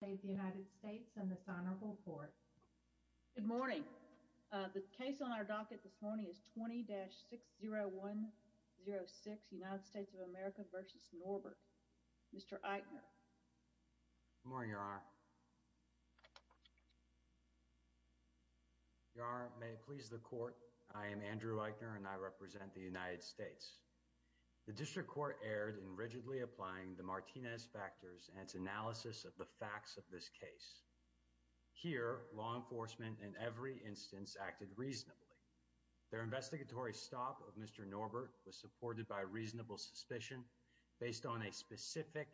Good morning. The case on our docket this morning is 20-60106, United States of America v. Norbert. Mr. Eichner. Good morning, Your Honor. Your Honor, may it please the Court, I am Andrew Eichner and I represent the United States. The District Court erred in rigidly applying the Martinez factors and its analysis of the facts of this case. Here, law enforcement in every instance acted reasonably. Their investigatory stop of Mr. Norbert was supported by reasonable suspicion based on a specific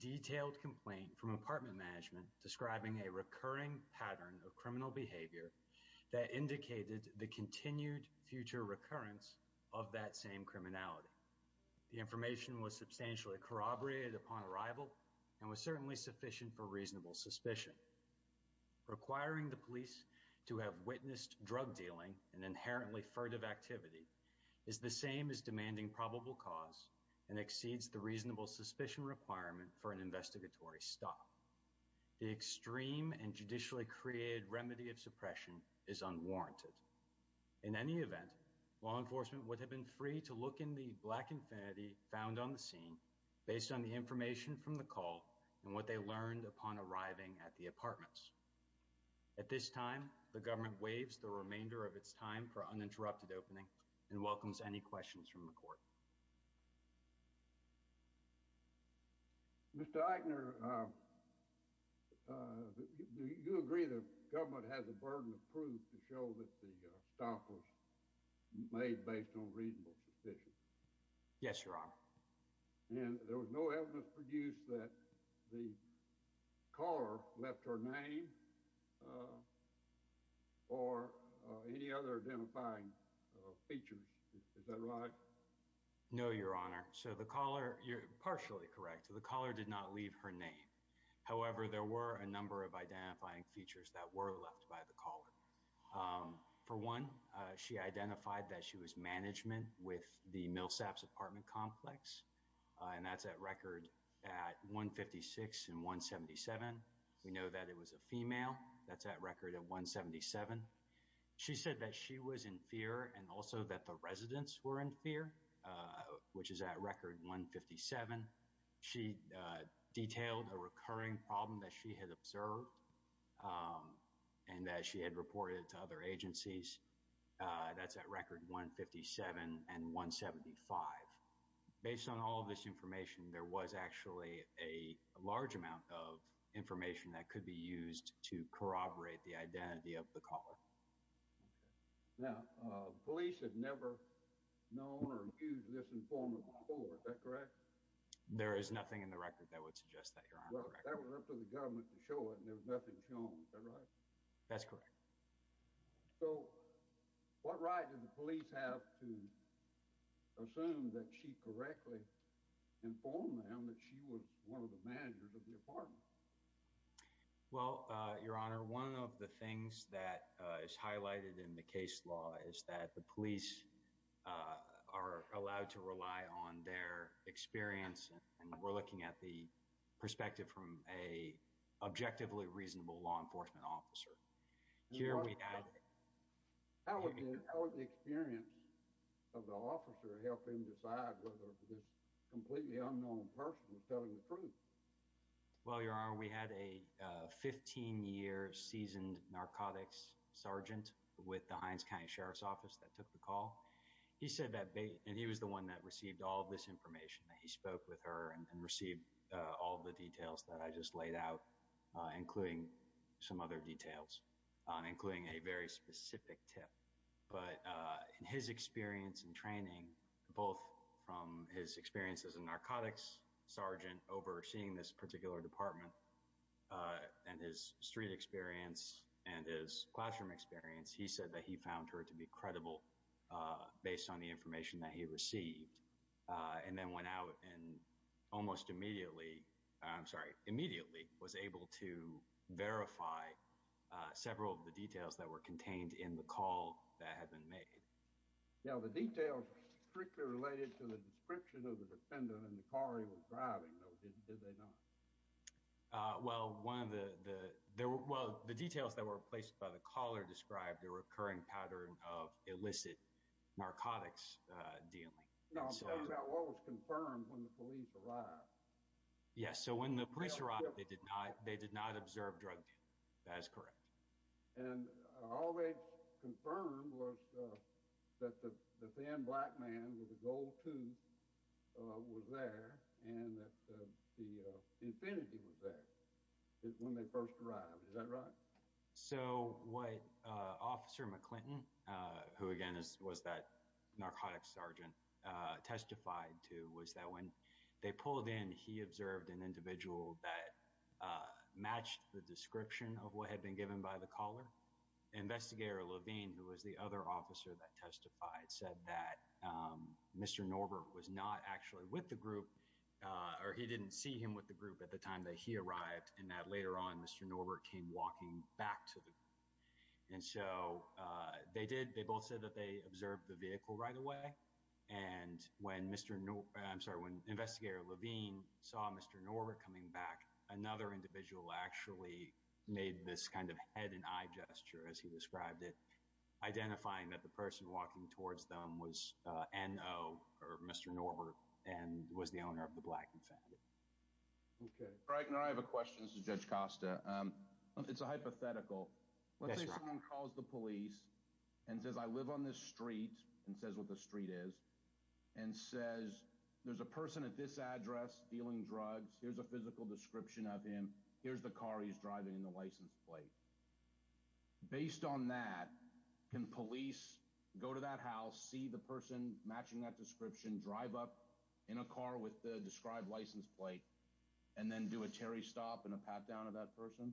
detailed complaint from apartment management describing a recurring pattern of criminal behavior that indicated the continued future of that same criminality. The information was substantially corroborated upon arrival and was certainly sufficient for reasonable suspicion. Requiring the police to have witnessed drug dealing and inherently furtive activity is the same as demanding probable cause and exceeds the reasonable suspicion requirement for an investigatory stop. The extreme and law enforcement would have been free to look in the black infinity found on the scene based on the information from the call and what they learned upon arriving at the apartments. At this time, the government waives the remainder of its time for uninterrupted opening and welcomes any questions from the Court. Mr. Eichner, do you agree that the government has a burden of proof to show that the stop was made based on reasonable suspicion? Yes, Your Honor. And there was no evidence produced that the caller left her name or any other identifying features. Is that right? No, Your Honor. So the caller, you're partially correct, the caller did not leave her name. However, there were a number of identifying features that were left by the caller. For one, she identified that she was management with the Millsaps apartment complex and that's at record at 156 and 177. We know that it was a female, that's at record at 177. She said that she was in fear and also that the residents were in fear, which is at record 157. She detailed a recurring problem that she had observed and that she had reported to other agencies. That's at record 157 and 175. Based on all this information, there was actually a large amount of information that could be used to corroborate the informant before. Is that correct? There is nothing in the record that would suggest that, Your Honor. That was for the government to show and there was nothing shown. Is that right? That's correct. So what right did the police have to assume that she correctly informed them that she was one of the managers of the apartment? Well, Your Honor, one of the things that is highlighted in the case law is that the police are allowed to rely on their experience and we're looking at the perspective from a objectively reasonable law enforcement officer. How was the experience of the officer helping decide whether this completely unknown person was telling the truth? Well, with the Heinz County Sheriff's Office that took the call, he said that and he was the one that received all this information. He spoke with her and received all the details that I just laid out, including some other details, including a very specific tip. But in his experience and training, both from his experience as a narcotics sergeant overseeing this particular department and his street experience and his classroom experience, he said that he found her to be credible based on the information that he received and then went out and almost immediately, I'm sorry, immediately was able to verify several of the details that were contained in the call that had been made. Now, the details strictly related to the description of the defendant and the car he was driving, did they not? Well, the details that were placed by the caller described a recurring pattern of illicit narcotics dealing. No, I'm talking about what was confirmed when the police arrived. Yes, so when the police arrived, they did not observe drug dealing. That is correct. And all they confirmed was that the then black man with the gold tooth was there and that the Infiniti was there when they first arrived. Is that right? So what Officer McClinton, who again was that narcotics sergeant, testified to was that when they pulled in, he observed an individual that was the other officer that testified, said that Mr. Norber was not actually with the group or he didn't see him with the group at the time that he arrived and that later on Mr. Norber came walking back to them. And so they did, they both said that they observed the vehicle right away. And when Mr. Norber, I'm sorry, when investigator Levine saw Mr. Norber coming back, another identifying that the person walking towards them was N.O. or Mr. Norber and was the owner of the black Infiniti. Okay, all right. Now I have a question. This is Judge Costa. It's a hypothetical. Let's say someone calls the police and says, I live on this street and says what the street is and says, there's a person at this address dealing drugs. Here's a physical description of him. Here's the car he's driving in the license plate. Based on that, can police go to that house, see the person matching that description, drive up in a car with the described license plate, and then do a Terry stop and a pat down of that person?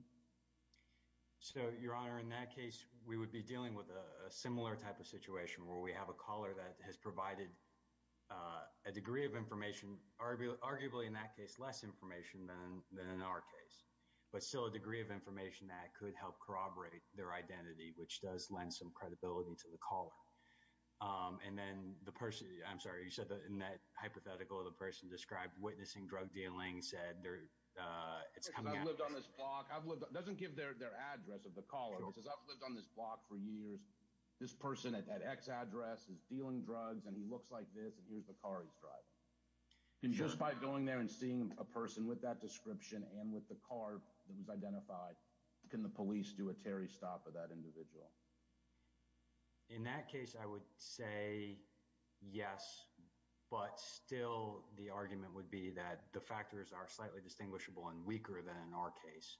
So your honor, in that case, we would be dealing with a similar type of situation where we have a caller that has provided a degree of information, arguably in that case, less information than in our case. But still a degree of information that could help corroborate their identity, which does lend some credibility to the caller. And then the person, I'm sorry, you said that in that hypothetical, the person described witnessing drug dealing said, doesn't give their address of the caller because I've lived on this block for years. This person at that X address is dealing drugs and he looks like this and here's the car he's driving. And just by going there and seeing a person with that description and with the car that was identified, can the police do a Terry stop of that individual? In that case, I would say yes, but still the argument would be that the factors are slightly distinguishable and weaker than in our case.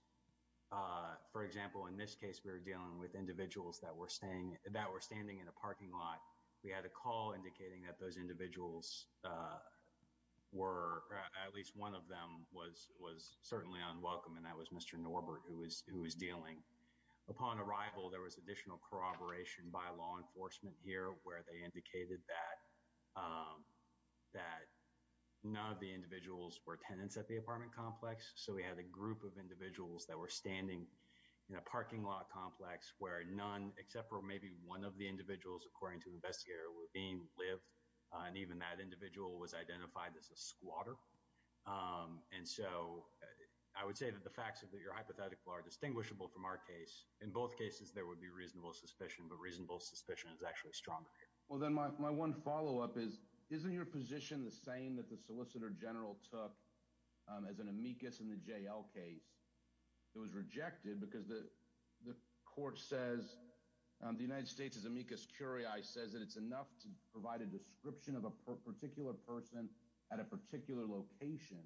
For example, in this case, we were dealing with individuals that were standing in a parking lot. We had a call indicating that those individuals were at least one of them was certainly unwelcome. And that was Mr. Norbert who was dealing. Upon arrival, there was additional corroboration by law enforcement here where they indicated that none of the individuals were tenants at the apartment complex. So we had a group of individuals that were standing in a parking lot complex where none, except for maybe one of the individuals, according to investigator, were being lived. And even that individual was identified as a squatter. And so I would say that the facts of your hypothetical are distinguishable from our case. In both cases, there would be reasonable suspicion, but reasonable suspicion is actually stronger here. Well, then my one follow-up is, isn't your position the same that the solicitor general took as an amicus in the JL case? It was rejected because the court says the United States amicus curiae says that it's enough to provide a description of a particular person at a particular location.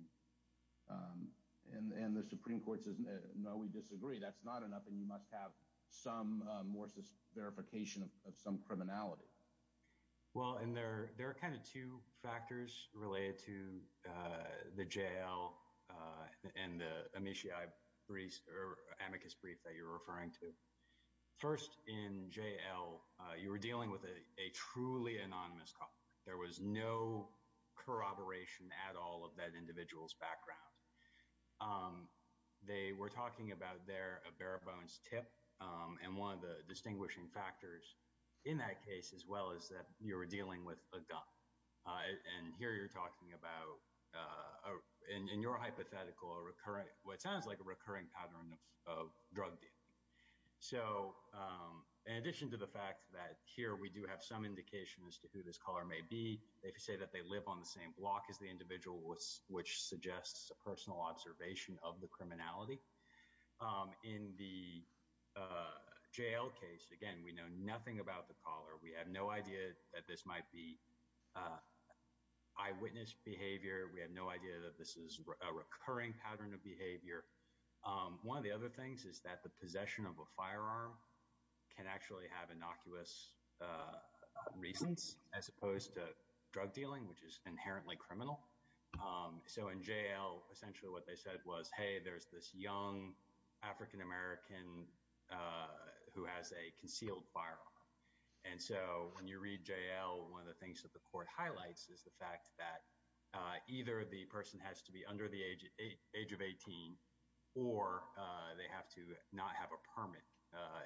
And the Supreme Court says, no, we disagree. That's not enough and you must have some more verification of some criminality. Well, and there are kind of two factors related to the JL and the amiciae brief or amicus brief that you're referring to. First, in JL, you were dealing with a truly anonymous culprit. There was no corroboration at all of that individual's background. They were talking about their bare-bones tip and one of the distinguishing factors in that case as well is that you were dealing with a gun. And here you're talking about in your hypothetical, what sounds like a recurring pattern of drug dealing. So, in addition to the fact that here we do have some indication as to who this caller may be, if you say that they live on the same block as the individual, which suggests a personal observation of the criminality. In the JL case, again, we know nothing about the caller. We have no idea that this might be eyewitness behavior. We have no idea that this is a recurring pattern of behavior. One of the other things is that the possession of a firearm can actually have innocuous reasons as opposed to drug dealing, which is inherently criminal. So, in JL, essentially what they said was, hey, there's this young African-American who has a concealed firearm. And so, when you read JL, one of the things that the court highlights is the fact that either the person has to be under the age of 18 or they have to not have a permit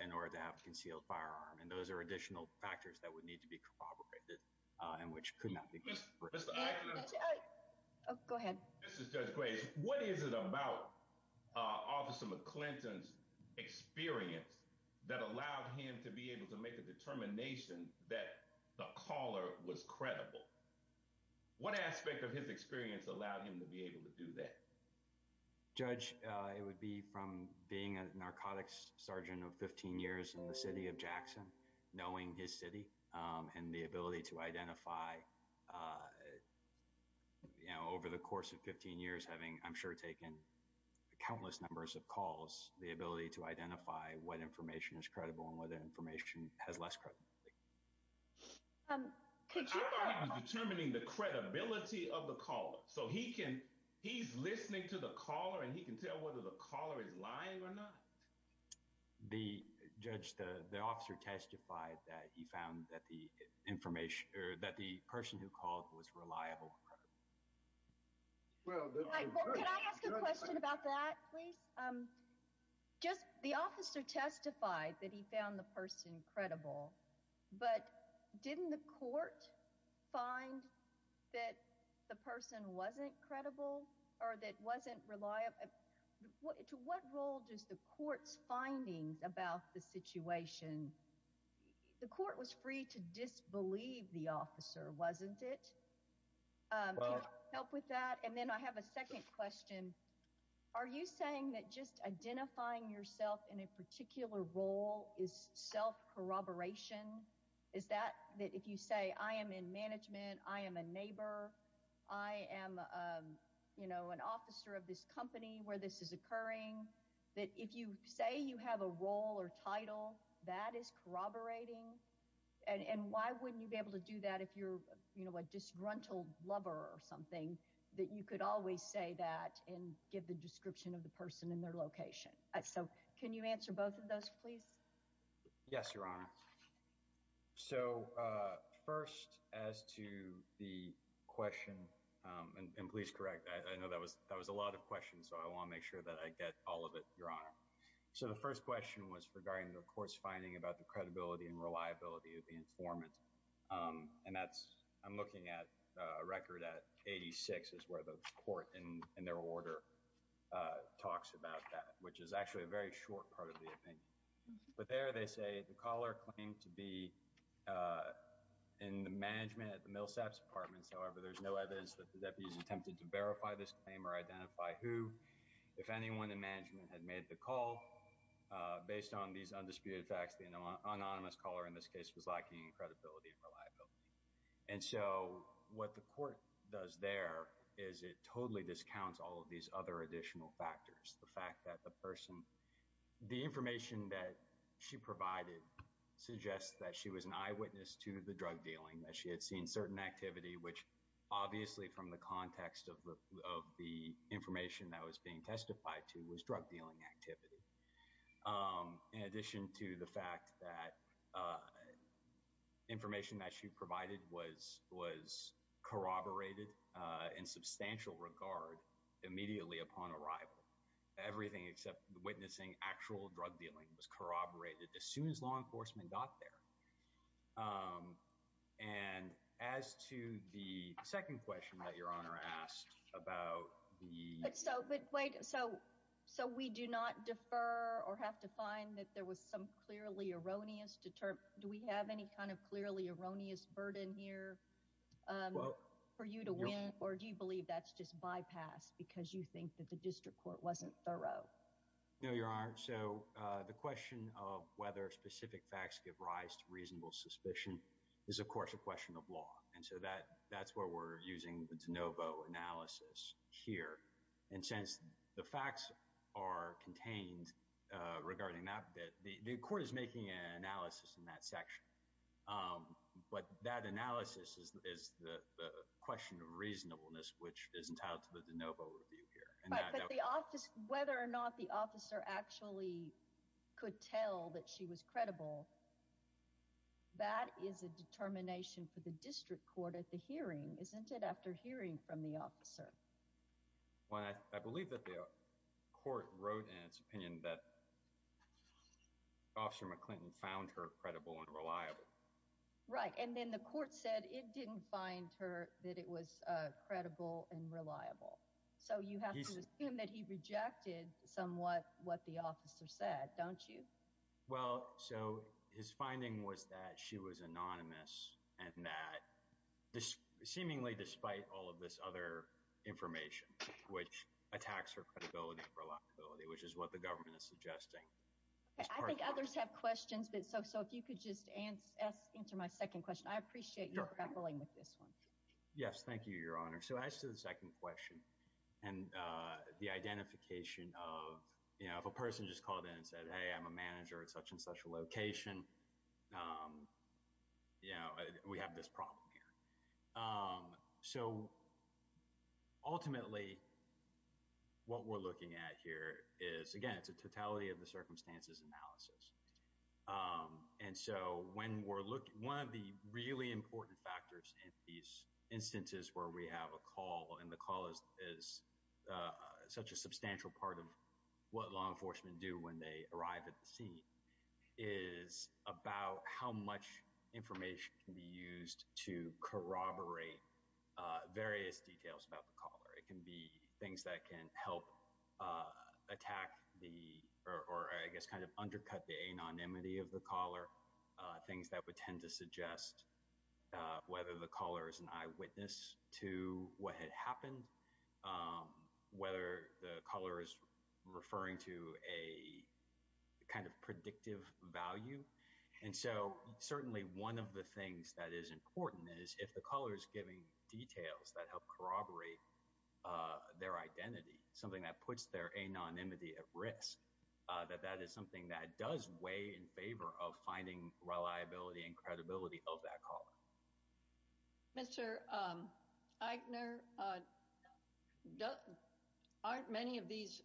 in order to have a concealed firearm. And those are additional factors that would need to be corroborated and which could not be. Go ahead. This is Judge Grady. What is it about Officer McClinton's experience that allowed him to be able to make a determination that the caller was credible? What aspect of his experience allowed him to be able to do that? Judge, it would be from being a narcotics sergeant of 15 years in the city of Jackson, knowing his city and the ability to identify, you know, over the course of 15 years having, I'm sure, taken countless numbers of calls, the ability to identify what information is credible and what information has less credibility. I'm determining the credibility of the call. So, he's listening to the caller and he can tell whether the caller is lying or not? Judge, the officer testified that he found that the person who called was reliable. Well, that's a good point. Can I ask a question about that, please? The officer testified that he found the person credible, but didn't the court find that the person wasn't credible or that wasn't reliable? To what role does the court's findings about the situation? The court was free to disbelieve the officer, wasn't it? Can you help with that? And then I have a second question. Are you saying that just identifying yourself in a particular role is self-corroboration? Is that that if you say, I am in management, I am a neighbor, I am, you know, an officer of this company where this is occurring, that if you say you have a role or title, that is corroborating? And why wouldn't you be able to do that if you're, you know, a disgruntled lover or something, that you could always say that and give the description of the person and their location? So, can you answer both of those, please? Yes, Your Honor. So, first as to the question, and please correct, I know that was a lot of questions, so I want to make sure that I get all of it, Your Honor. So, the first question was regarding the court's finding about the credibility and reliability of the informant. And that's, I'm looking at a record at 86 is where the court in their order talks about that, which is actually a very short part of the opinion. But there they say the caller claimed to be in the management at the Millsap's apartment, however, there's no evidence that the deputy attempted to verify this claim or identify who. If anyone in management had made the call, based on these undisputed facts, the anonymous caller in this case was lacking in credibility and reliability. And so, what the court does there is it totally discounts all of these other additional factors. The fact that the person, the information that she provided suggests that she was an eyewitness to the drug dealing, that she had seen certain activity, which obviously from the context of the information that was being testified to was activity. In addition to the fact that information that she provided was corroborated in substantial regard immediately upon arrival, everything except the witnessing actual drug dealing was corroborated as soon as law enforcement got there. And as to the second question that your honor asked about the... But so, but wait, so we do not defer or have to find that there was some clearly erroneous deter... Do we have any kind of clearly erroneous burden here for you to win, or do you believe that's just bypass because you think that the district court wasn't thorough? No, your honor. So, the question of whether specific facts give rise to reasonable suspicion is of course a question of law. And so, that's where we're using the de novo analysis here. And since the facts are contained regarding that bit, the court is making an analysis in that section. But that analysis is the question of reasonableness, which is entitled to the de novo analysis. And so, the question of whether or not the officer actually could tell that she was credible, that is a determination for the district court at the hearing, isn't it? After hearing from the officer. Well, I believe that the court wrote in its opinion that Officer McClinton found her credible and reliable. Right. And then the court said it didn't find her that it was credible and reliable. So, you have to assume that he rejected somewhat what the officer said, don't you? Well, so his finding was that she was anonymous and that seemingly despite all of this other information, which attacks her credibility and reliability, which is what the government is suggesting. I think others have questions. So, if you could just answer my second question. I appreciate you grappling with this one. Yes, thank you, Your Honor. So, as to the second question and the identification of, you know, if a person just called in and said, hey, I'm a manager at such and such a location, you know, we have this problem here. So, ultimately, what we're looking at here is, again, it's a totality of the circumstances analysis. And so, when we're looking, one of the really important factors in these instances where we have a call and the call is such a substantial part of what law enforcement do when they arrive at the scene is about how much information can be used to corroborate various details about the anonymity of the caller, things that would tend to suggest whether the caller is an eyewitness to what had happened, whether the caller is referring to a kind of predictive value. And so, certainly one of the things that is important is if the caller is giving details that help corroborate their identity, something that puts their anonymity at risk, that that is something that does weigh in favor of finding reliability and credibility of that caller. Mr. Eichner, aren't many of these,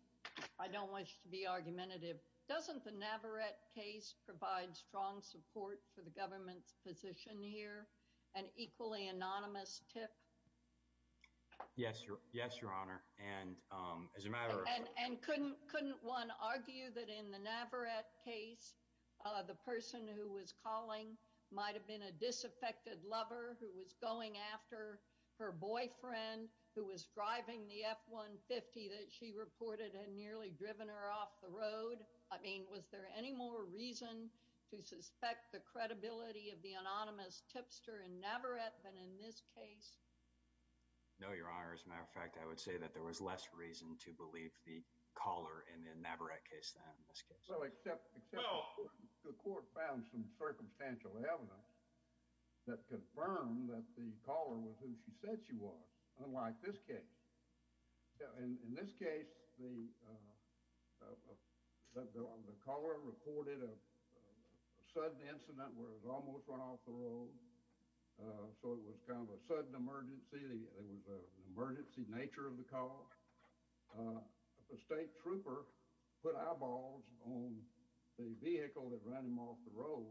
I don't wish to be argumentative, doesn't the Navarrette case provide strong support for the government's position here, an equally anonymous tip? Yes, Your Honor, and as a matter of- And couldn't one argue that in the Navarrette case, the person who was calling might have been a disaffected lover who was going after her boyfriend who was driving the F-150 that she reported had nearly driven her off the road? I mean, was there any more reason to suspect the credibility of the anonymous tipster in Navarrette than in this case? No, Your Honor, as a matter of fact, I would say that there was less reason to believe the caller in the Navarrette case than in this case. Well, except the court found some circumstantial evidence that confirmed that the caller was who she said she was, unlike this case. In this case, the caller recorded a sudden incident where it was almost run off the road, so it was kind of a sudden emergency. It was an emergency nature of the call. A state trooper put eyeballs on the vehicle that ran him off the road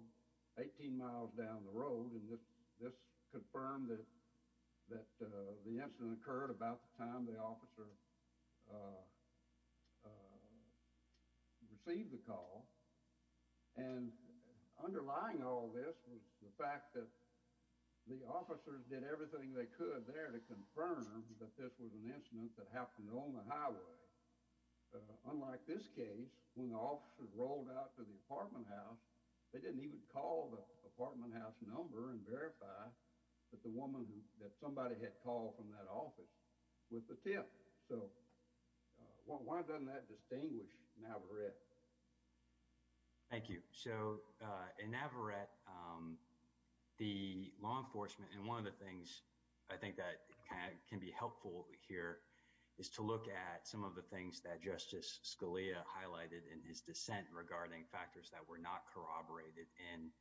18 miles down the road, and this confirmed that the incident occurred about the time the officer received the call, and underlying all this was the fact that the officers did everything they could there to confirm that this was an incident that happened on the highway. Unlike this case, when the officers rolled out to the apartment house, they didn't even call the apartment house number and verify that the woman that somebody had called from that office was the tip. So, why doesn't that distinguish Navarrette? Thank you. So, in Navarrette, the law enforcement, and one of the things I think that can be helpful here is to look at some of the things that Justice Scalia highlighted in his dissent regarding factors that were not corroborated in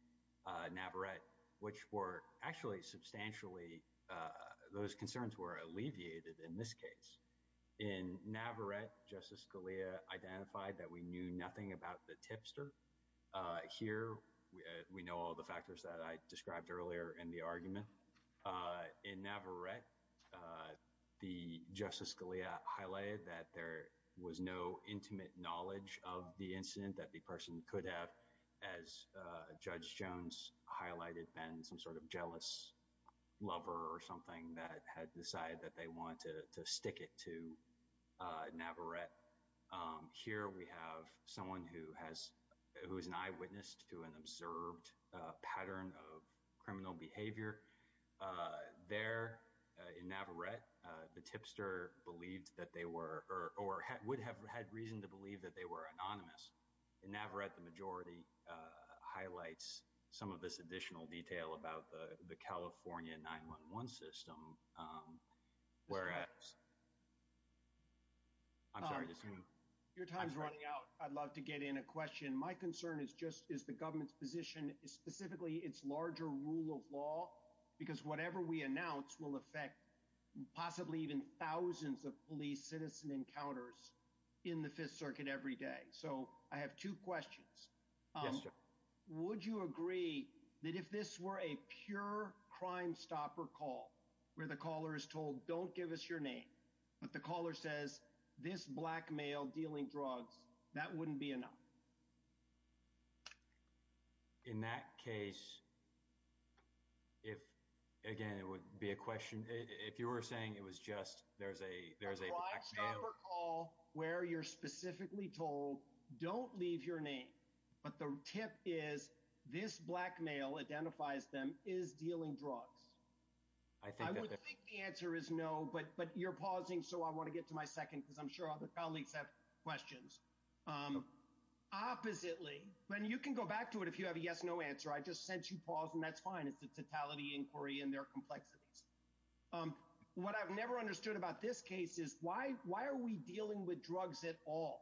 Navarrette, which were actually substantially, those concerns were alleviated in this case. In Navarrette, Justice Scalia identified that we knew nothing about the tipster. Here, we know all the factors that I described earlier in the argument. In Navarrette, the Justice Scalia highlighted that there was no intimate knowledge of the incident that the person could have, as Judge Jones highlighted, been some sort of jealous lover or something that had decided that they wanted to stick it to Navarrette. Here, we have someone who has, who is an eyewitness to an observed pattern of criminal behavior. There, in Navarrette, the tipster believed that they were, or would have had reason to believe that they were anonymous. In Navarrette, the majority highlights some of this additional detail about the California 9-1-1 system. Your time is running out. I'd love to get in a question. My concern is just, is the government's position, specifically its larger rule of law, because whatever we announce will affect possibly even thousands of police citizen encounters in the Fifth Circuit every day. So, I have two questions. Yes, sir. Would you agree that if this were a pure crime stopper call where the caller is told, don't give us your name, but the caller says, this black male dealing drugs, that wouldn't be enough? In that case, if, again, it would be a question, if you were saying it was just, there's a, there's a call where you're specifically told, don't leave your name, but the tip is, this black male identifies them is dealing drugs. I think the answer is no, but, but you're pausing. So, I want to get to my second, because I'm sure all the colleagues have questions. Oppositely, when you can go back to it, if you have a yes, no answer, I just sent you pause and that's fine. It's the totality inquiry and their complexities. What I've never understood about this case is why are we dealing with drugs at all?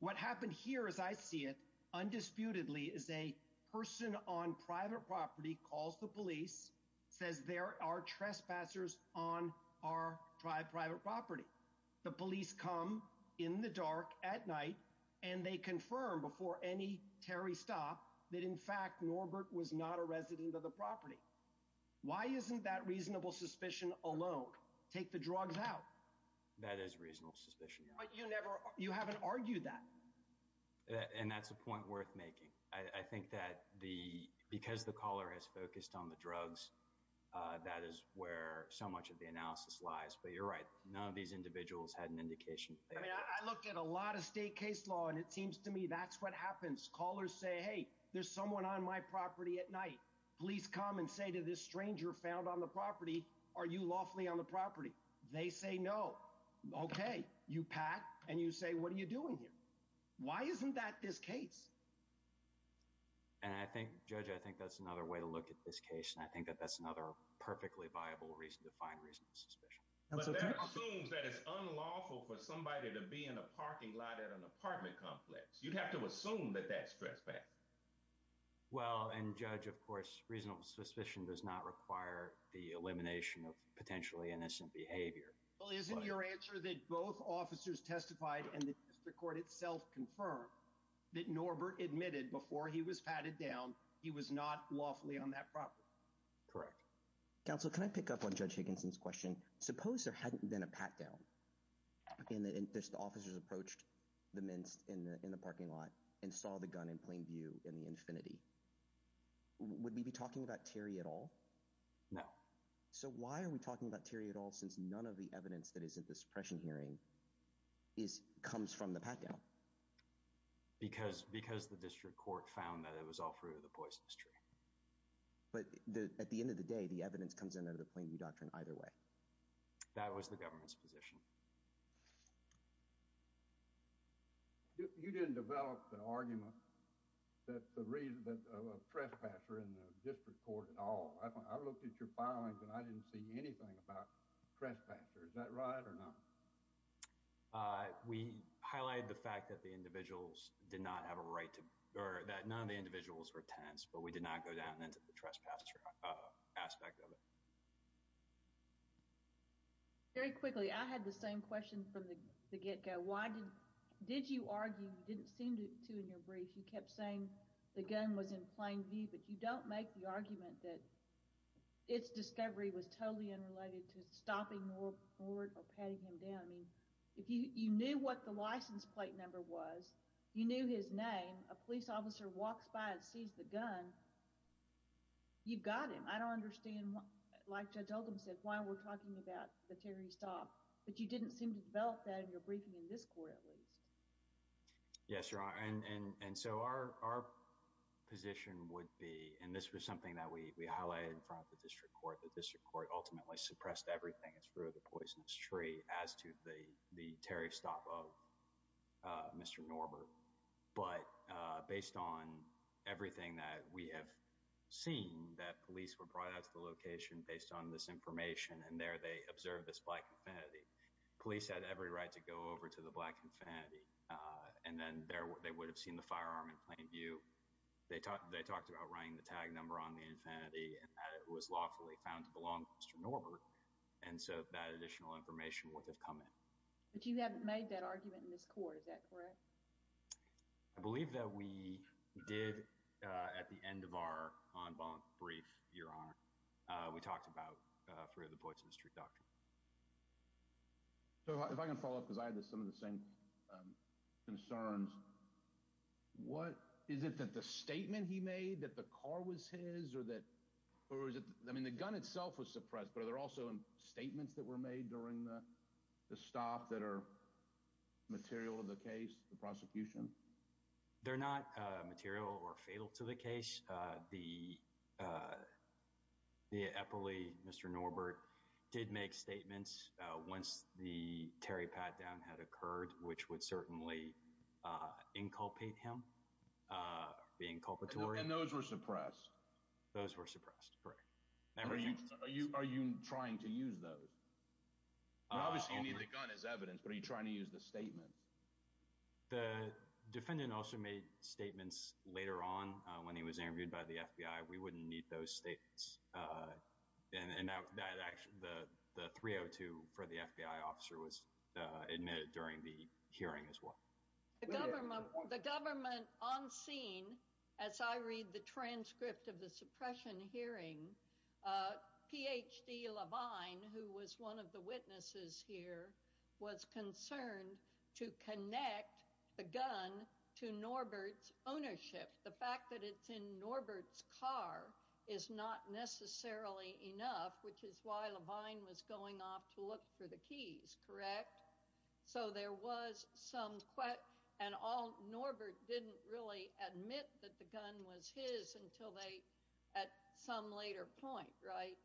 What happens here as I see it, undisputedly, is a person on private property calls the police, says there are trespassers on our private property. The police come in the dark at night and they confirm before any Terry stop that in fact Norbert was not a reasonable suspicion alone. Take the drugs out. That is reasonable suspicion. You never, you haven't argued that. And that's a point worth making. I think that the, because the caller has focused on the drugs, that is where so much of the analysis lies, but you're right. None of these individuals had an indication. I looked at a lot of state case law and it seems to me that's what happens. Callers say, hey, there's someone on my property at night. Please come and say to this stranger found on the property. Are you lawfully on the property? They say no. Okay. You pack and you say, what are you doing here? Why isn't that this case? And I think, Judge, I think that's another way to look at this case. And I think that that's another perfectly viable reason to find reasonable suspicion. But that assumes that it's unlawful for somebody to be in a parking lot at an apartment complex. You'd have to assume that that's trespassing. Well, and Judge, of course, reasonable suspicion does not require the elimination of potentially innocent behavior. Well, isn't your answer that both officers testified and the court itself confirmed that Norbert admitted before he was patted down, he was not lawfully on that property? Correct. Counsel, can I pick up on Judge Higginson's question? Suppose there hadn't been a pat down in the, if the officers approached the men in the parking lot and saw the gun in plain view, the evidence comes in out of the plain view doctrine either way. That was the government's position. Would we be talking about Terry at all? No. So why are we talking about Terry at all since none of the evidence that is at the suppression hearing comes from the pat down? Because the district court found that it was all through the poisonous tree. But at the end of the day, the evidence comes in out of the plain view doctrine either way. That was the government's position. You didn't develop an argument that the reason that a trespasser in the district court at all. I looked at your filings and I didn't see anything about trespassers. Is that right or not? We highlighted the fact that the individuals did not have a right to, or that none of the individuals were tenants, but we did not go down into the trespasser aspect of it. Very quickly, I had the same question from the get-go. Why did you argue, you didn't seem to in your brief, you kept saying the gun was in plain view, but you don't make the argument that its discovery was totally unrelated to stopping Moore or patting him down. I mean, if you knew what the license plate number was, you knew his name, a police officer walks by and sees the gun, you've got him. I don't understand, like Judge Oldham said, why we're talking about the Terry Stop, but you didn't seem to develop that in your briefing in this court at least. Yes, Your Honor, and so our position would be, and this was something that we highlighted in front of the district court, the district court ultimately suppressed everything that's through the poisonous tree as to the Terry Stop of Mr. Norbert. But based on everything that we have seen that police were brought out to the location based on this information, and there they observed this black infinity, police had every right to go over to the black infinity, and then they would have seen the firearm in plain view. They talked about writing the tag number on the infinity and that it was lawfully found to belong to Mr. Norbert, and so that additional information would have come in. But you haven't made that argument in this court, is that correct? I believe that we did at the end of our en banc brief, Your Honor, we talked about through the poisonous tree document. So if I can follow up, because I had some of the same concerns, what, is it that the statement he made that the car was his, or that, or is it, I mean the gun itself was suppressed, but are there also statements that were made during the stop that are material to the case, the prosecution? They're not material or fatal to the case. The Eppley, Mr. Norbert, did make statements once the Terry Patdown had occurred, which would certainly inculpate him, the inculpatory. And those were suppressed? Those were suppressed, correct. Are you trying to use those? Obviously the gun is evidence, but are you trying to use the statement? The defendant also made statements later on when he was interviewed by the FBI. We wouldn't need those statements. And that actually, the 302 for the FBI officer was admitted during the hearing as well. The government on scene, as I read the transcript of the suppression hearing, Ph.D. Levine, who was one of the witnesses here, was concerned to connect the gun to Norbert's ownership. The fact that it's in Norbert's car is not necessarily enough, which is why Levine was going off to look for the keys, correct? So there was some, and Norbert didn't really admit that the gun was his until they, at some later point, right?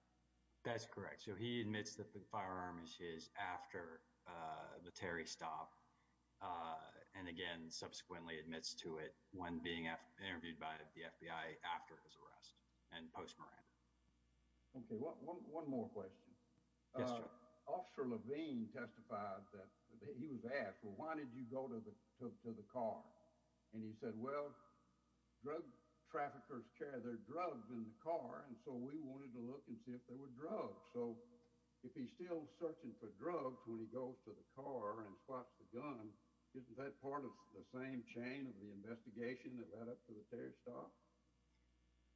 That's correct. So he admits that the firearm is his after the Terry stop. And again, subsequently admits to it when being interviewed by the FBI after his arrest and post-mortem. Okay. One more question. Officer Levine testified that he was asked, well, why did you go to the car? And he said, well, drug traffickers carry their drugs in the car. And so we wanted to look and see if there were drugs. So if he's still searching for drugs when he goes to the car and spots the gun, isn't that part of the same chain of the investigation that led up to the Terry stop?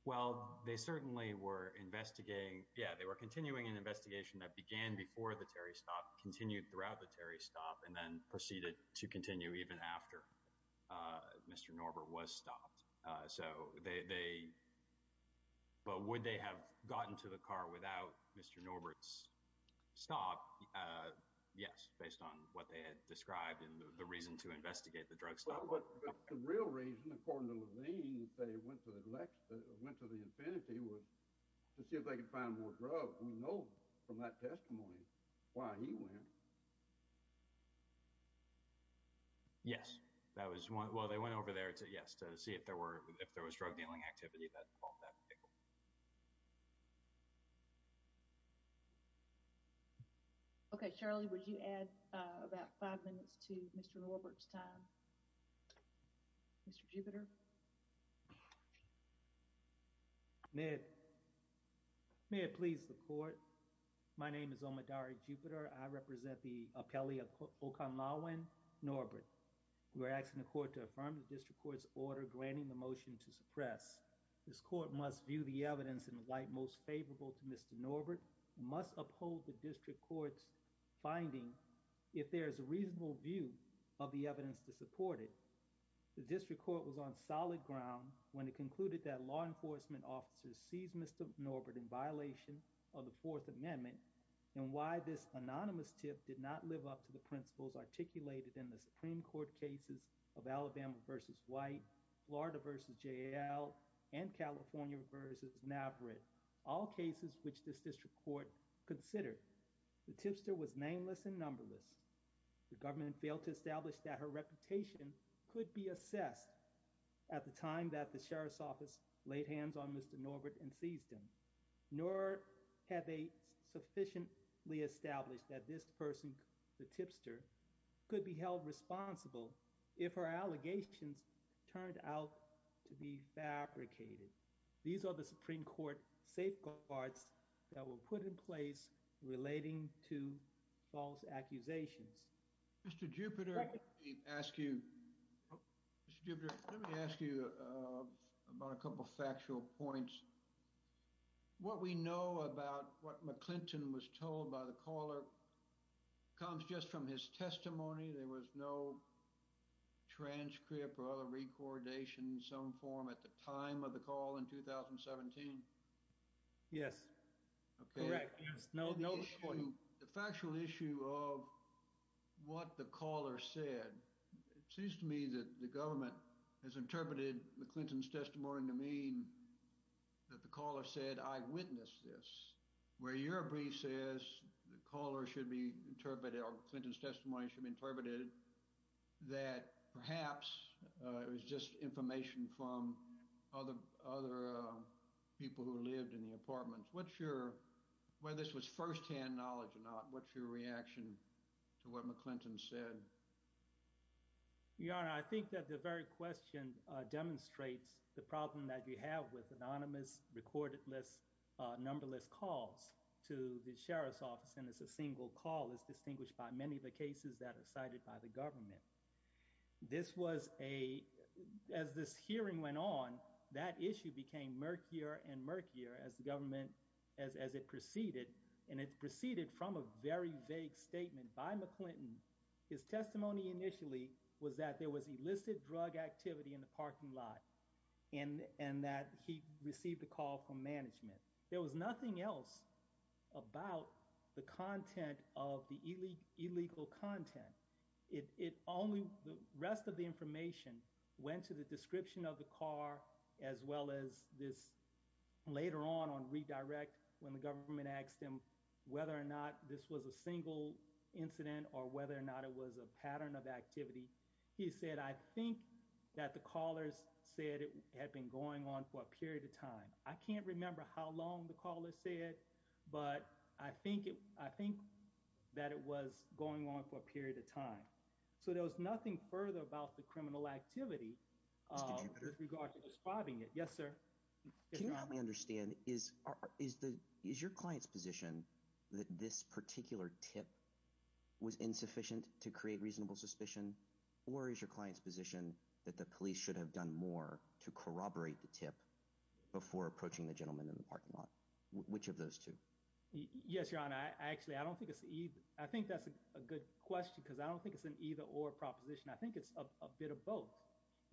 Well, they certainly were investigating. Yeah, they were continuing an investigation that began before the Terry stop, continued throughout the Terry stop, and then proceeded to continue even after Mr. Norbert was stopped. But would they have gotten to the car without Mr. Norbert's stop? Yes, based on what they had described and the reason to investigate the drug stop. But the real reason, according to Levine, they went to the infinity to see if they could find more drugs. We know from that testimony why he went. Yes, that was one. Well, they went over there to, yes, to see if there were, if there was drug dealing activity that involved that vehicle. Okay, Charlie, would you add about five minutes to Mr. Norbert's time? Mr. Jupiter? May it please the court. My name is Omidari Jupiter. I represent the appellee of Oconlawin, Norbert. We're asking the court to affirm the district court's order granting the motion to evidence in the light most favorable to Mr. Norbert must uphold the district court's finding if there is a reasonable view of the evidence to support it. The district court was on solid ground when it concluded that law enforcement officers seized Mr. Norbert in violation of the Fourth Amendment and why this anonymous tip did not live up to the principles articulated in the Supreme All cases which this district court considered, the tipster was nameless and numberless. The government failed to establish that her reputation could be assessed at the time that the sheriff's office laid hands on Mr. Norbert and seized him, nor have they sufficiently established that this person, the tipster, could be held responsible if her allegations turned out to be fabricated. These are the Supreme Court safeguards that were put in place relating to false accusations. Mr. Jupiter, let me ask you about a couple factual points. What we know about what McClinton was told by the caller comes just from his testimony. There was no transcript or other recordation in some form at the time of the call in 2017? Yes. No, no. The factual issue of what the caller said, it seems to me that the government has interpreted McClinton's testimony to mean that the caller said, I witnessed this, where your brief says the caller should be interpreted or McClinton's testimony should be interpreted. It was just information from other people who lived in the apartments. Whether this was first-hand knowledge or not, what's your reaction to what McClinton said? I think that the very question demonstrates the problem that we have with anonymous, recorded lists, numberless calls to the sheriff's office, and it's a single call that's distinguished by many of the cases that are cited by the government. As this hearing went on, that issue became murkier and murkier as the government, as it proceeded, and it proceeded from a very vague statement by McClinton. His testimony initially was that there was illicit drug activity in the parking lot and that he received a call from management. There was nothing else about the content of the illegal content. The rest of the information went to the description of the car, as well as this later on on redirect when the government asked him whether or not this was a single incident or whether or not it was a pattern of activity. He said, I think that the callers said it had been going on for a period of time. I can't remember how long the caller said, but I think that it was going on for a period of time. So there was nothing further about the criminal activity with regards to describing it. Yes, sir. Can you help me understand, is your client's position that this particular tip was insufficient to create reasonable suspicion, or is your client's position that the police should have done more to corroborate the tip before approaching the gentleman in the parking lot? Which of those two? Yes, your honor. Actually, I don't think it's either. I think that's a good question because I don't think it's an either or proposition. I think it's a bit of both.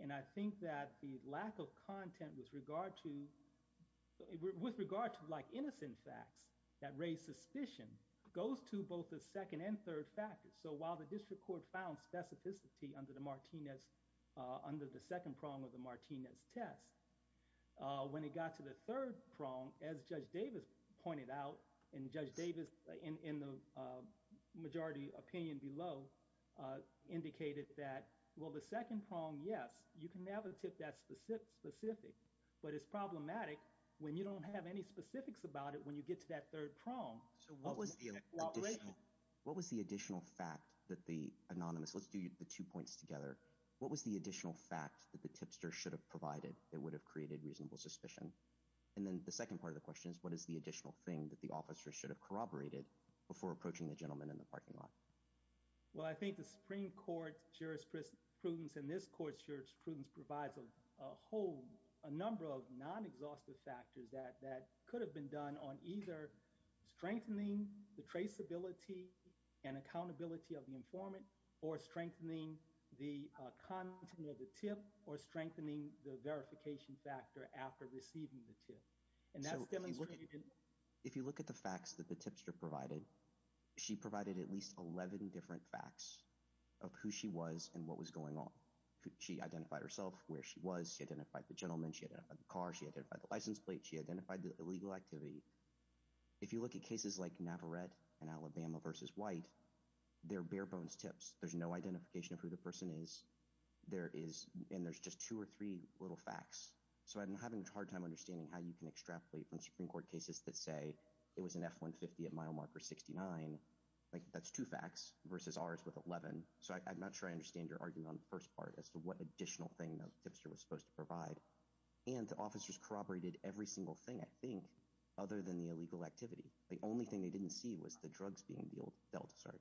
And I think that the lack of content with regard to like innocent facts that raise suspicion goes to both the second and third factors. So while the district court found specificity under the second prong of the Martinez test, when it got to the third prong, as Judge Davis pointed out, and Judge Davis in the majority opinion below indicated that, well, the second prong, yes, you can have a tip that's specific, but it's problematic when you don't have any specifics about it when you get to that third prong. So what was the additional fact that the anonymous, let's do the two points together, what was the additional fact that the tipster should have provided that would have created reasonable suspicion? And then the second part of the question is what is the additional thing that the officer should have corroborated before approaching the gentleman in the parking lot? Well, I think the Supreme Court jurisprudence and this court jurisprudence provides a whole, a number of non-exhaustive factors that could have been done on either strengthening the traceability and accountability of the informant or strengthening the content of the tip or strengthening the verification factor after receiving the tip. And that's demonstrated. If you look at the facts that the tipster provided, she provided at least 11 different facts of who she was and what was going on. She identified herself, where she was, she identified the gentleman, she identified the car, she identified the license plate, she identified the illegal activity. If you look at cases like Navarette in Alabama versus White, they're bare bones tips. There's no identification of who the person is. There is, and there's just two or three little facts. So I'm having a hard time understanding how you can extrapolate from Supreme Court cases that say it was an F-150 at mile marker 69, like that's two facts, versus ours with 11. So I'm not sure I understand your argument on the first part as to what additional thing the tipster was supposed to provide. And the officers corroborated every single thing, I think, other than the illegal activity. The only thing they didn't see was the drugs being dealt with, sorry.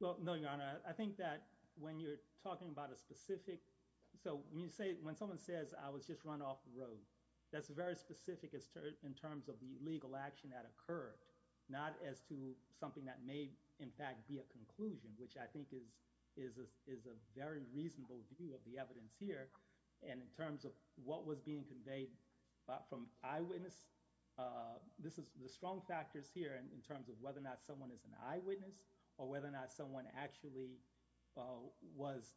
Well, no, Your Honor, I think that when you're talking about a specific... So when someone says, I was just run off the road, that's very specific in terms of the legal action that occurred, not as to something that may, in fact, be a conclusion, which I think is a very reasonable view of the evidence here. And in terms of what was being in terms of whether or not someone is an eyewitness, or whether or not someone actually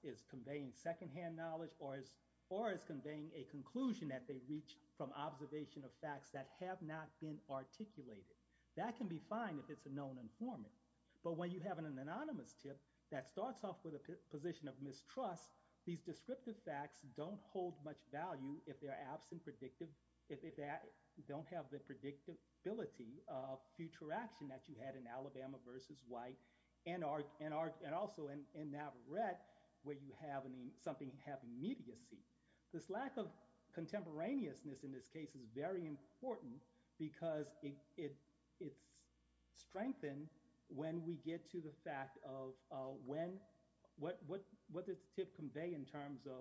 is conveying secondhand knowledge, or is conveying a conclusion that they reached from observation of facts that have not been articulated. That can be fine if it's a known informant. But when you have an anonymous tip that starts off with a position of mistrust, these descriptive facts don't hold much value if they don't have the predictability of future action that you had in Alabama v. White, and also in Navarrete, where you have something having immediacy. This lack of contemporaneousness in this case was very important because it's strengthened when we get to the fact of when... What does tip convey in this case?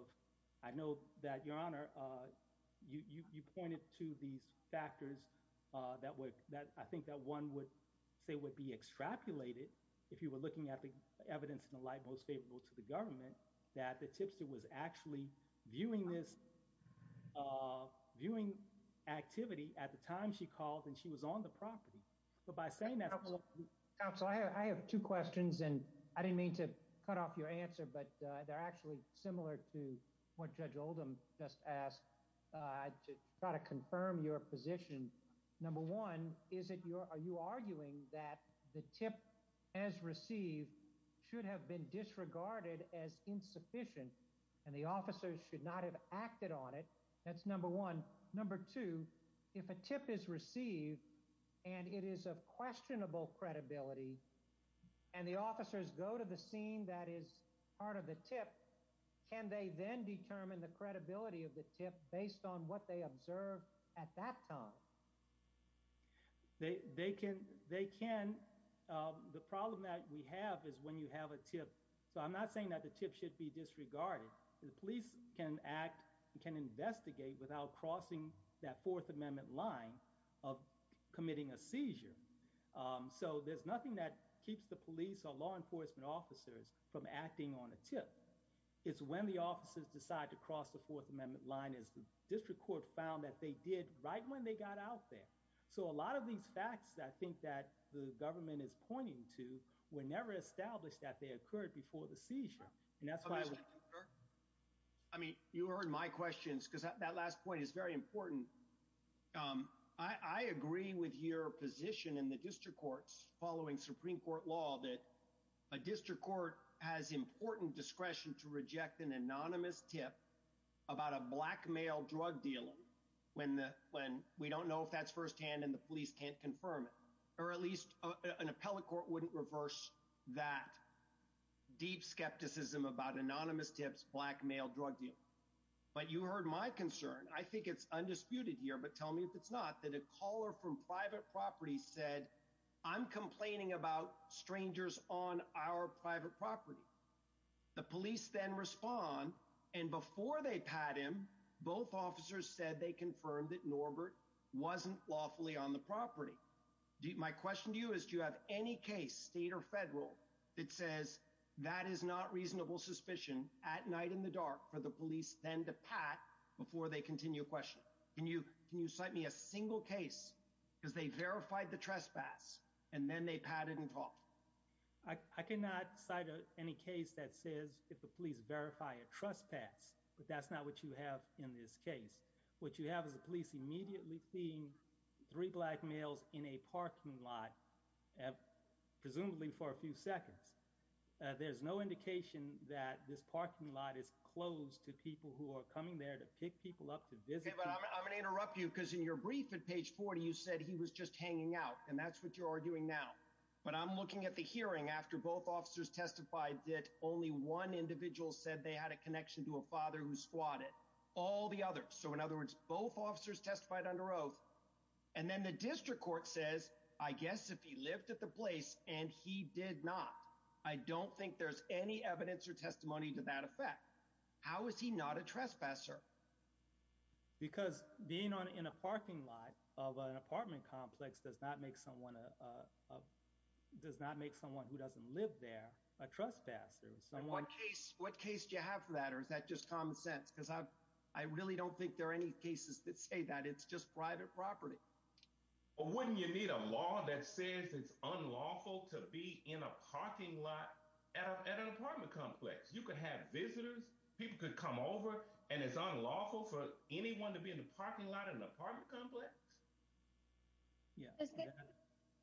I think that one would say would be extrapolated if you were looking at the evidence in the light most favorable to the government, that the tipster was actually viewing this activity at the time she called and she was on the property. So by saying that... Counsel, I have two questions, and I didn't mean to cut off your answer, but they're actually similar to what Judge Oldham just asked to try to confirm your position. Number one, are you arguing that the tip as received should have been disregarded as insufficient, and the officers should not have acted on it? That's number one. Number two, if a tip is received and it is of questionable credibility, and the officers go to the scene that is part of the tip, can they then determine the credibility of the tip based on what they observed at that time? They can. The problem that we have is when you have a tip... So I'm not saying that the tip should be disregarded. The police can act, can investigate without crossing that Fourth Amendment line of committing a seizure. So there's nothing that keeps the police or law enforcement officers from acting on a tip. It's when the officers decide to cross the Fourth Amendment line, as the district court found that they did right when they got out there. So a lot of these facts I think that the government is pointing to were never established that they occurred before the seizure. And that's why... I mean, you heard my questions, because that last point is very important. I agree with your position in the district courts following Supreme Court law that a district court has important discretion to reject an anonymous tip about a black male drug dealer when we don't know if that's firsthand and the police can't confirm it. Or at least an appellate court wouldn't reverse that deep skepticism about anonymous tips, black male drug dealer. But you heard my concern. I think it's undisputed here, but tell me if it's not, that caller from private property said, I'm complaining about strangers on our private property. The police then respond. And before they pat him, both officers said they confirmed that Norbert wasn't lawfully on the property. My question to you is, do you have any case, state or federal, that says that is not reasonable suspicion at night in the dark for the police then to pat before they continue questioning? Can you cite me a single case because they verified the trespass and then they patted and talked? I cannot cite any case that says if the police verify a trespass, but that's not what you have in this case. What you have is the police immediately seeing three black males in a parking lot, presumably for a few seconds. There's no indication that this parking lot is closed to people who are coming there to pick people up. I'm going to interrupt you because in your brief at page 40, you said he was just hanging out and that's what you're doing now. But I'm looking at the hearing after both officers testified that only one individual said they had a connection to a father who squatted all the others. So in other words, both officers testified under oath and then the district court says, I guess if he lived at the place and he did not, I don't think there's any evidence or testimony to that effect. How is he not a trespasser? Because being on in a parking lot of an apartment complex does not make someone does not make someone who doesn't live there a trespasser. What case do you have for that? Or is that just common sense? Because I really don't think there are any cases that say that it's just private property. Or wouldn't you need a law that says it's unlawful to be in a parking lot at an apartment complex? You could have visitors, people could come over and it's unlawful for anyone to be in the parking lot in the apartment complex? Yeah.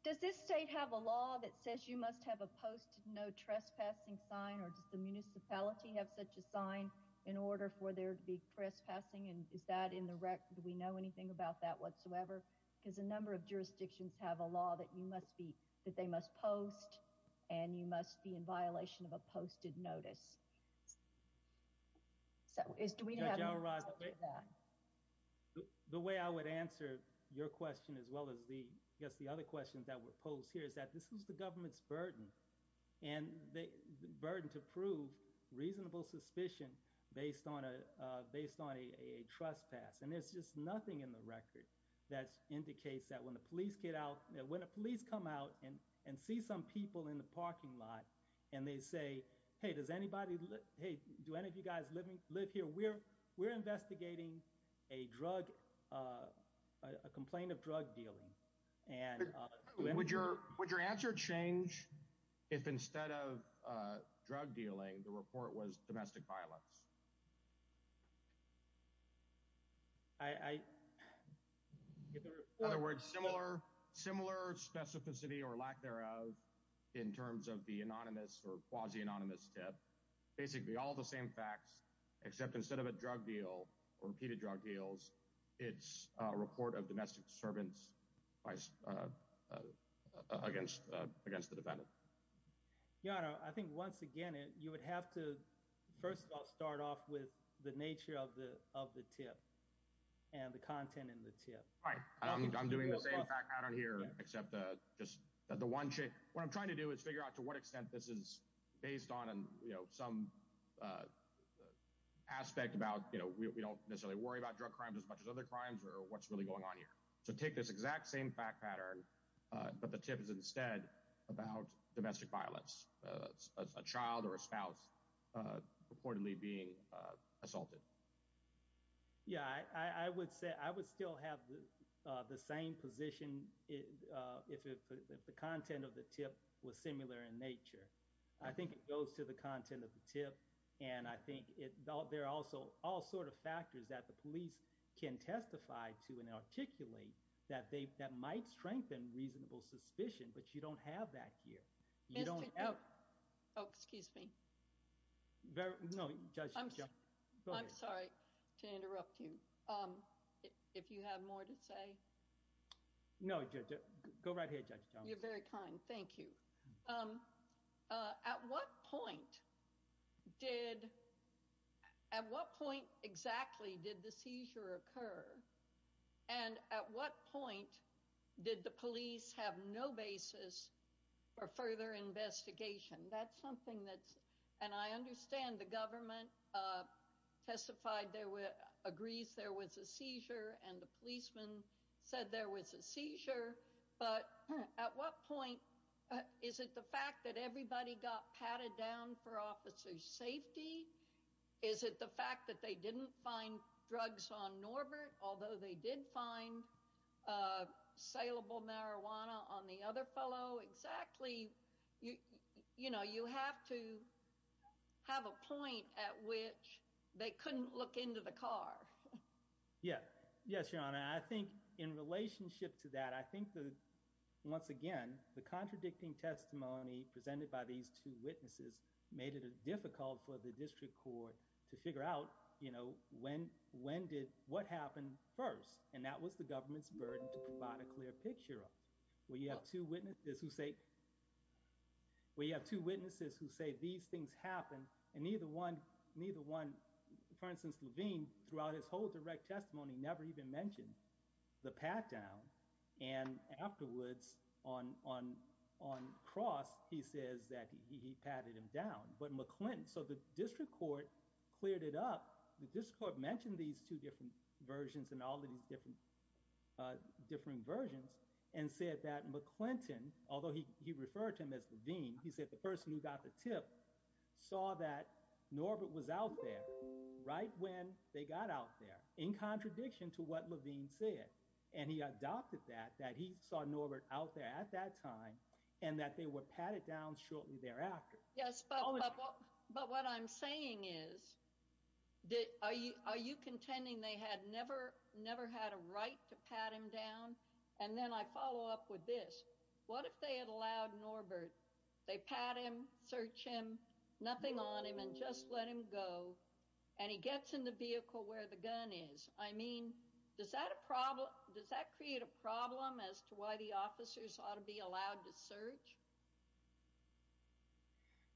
Does this state have a law that says you must have a post no trespassing sign or does the municipality have such a sign in order for there to be trespassing and is that in the rec? Do we know anything about that whatsoever? Because a number of jurisdictions have a law that they must post and you must be in violation of a posted notice. The way I would answer your question as well as the I guess the other questions that were posed here is that this is the government's burden and the burden to prove reasonable suspicion based on a trespass. And there's just nothing in the record that indicates that when the police get out, when the police come out and see some people in the parking lot and they say, hey, does anybody, hey, do any of you guys live here? We're investigating a drug, a complaint of drug dealing. Would your answer change if instead of drug dealing, the report was domestic violence? In other words, similar specificity or lack thereof in terms of the anonymous or quasi-anonymous death, basically all the same facts except instead of a drug deal or repeated drug deals, it's a report of domestic disturbance against the defendant. Yeah, I think once again, you would have to first of all, start off with the nature of the tip and the content in the tip. Right. I'm doing the same pattern here except that just the one check. What I'm trying to do is figure out to what extent this is based on some aspect about, you know, we don't necessarily worry about drug crimes as much as other crimes or what's really going on here. So take this exact same fact pattern, but the tip is instead about domestic violence, a child or a spouse reportedly being assaulted. Yeah, I would say I would still have the same position if the content of the tip was similar in nature. I think it goes to the content of the tip and I think there are also all sorts of factors that the police can testify to in particular that might strengthen reasonable suspicion, but you don't have that here. Oh, excuse me. I'm sorry to interrupt you. If you have more to say. No, go right ahead. You're very kind. Thank you. At what point exactly did the seizure occur and at what point did the police have no basis for further investigation? That's something that's, and I understand the government testified there were, agrees there was a seizure and the policemen said there was a seizure, but at what point, is it the fact that everybody got patted down for officer's safety? Is it the fact that they didn't find drugs on Norbert, although they did find saleable marijuana on the other fellow? Exactly. You know, you have to have a point at which they couldn't look into the car. Yeah. Yes, your honor. I think in relationship to that, I think that once again, the contradicting testimony presented by these two witnesses made it difficult for the district court to figure out, you know, when did, what happened first? And that was the government's burden to provide a clear picture of. We have two witnesses who say, we have two witnesses who say these things happened and neither one, for instance, throughout his whole direct testimony, never even mentioned the pat down and afterwards on cross, he says that he patted him down, but McClinton, so the district court cleared it up. The district court mentioned these two different versions and all the different versions and said that McClinton, although he referred to him as the dean, he said the person who got the tip saw that Norbert was out there right when they got out there in contradiction to what Levine said. And he adopted that, that he saw Norbert out there at that time and that they would pat it down shortly thereafter. Yes. But what I'm saying is, are you contending they had never, never had a right to pat him down? And then I follow up with this. What if they had allowed Norbert, they pat him, search him, nothing on him and just let him go and he gets in the vehicle where the gun is. I mean, does that create a problem as to why the officers ought to be allowed to search?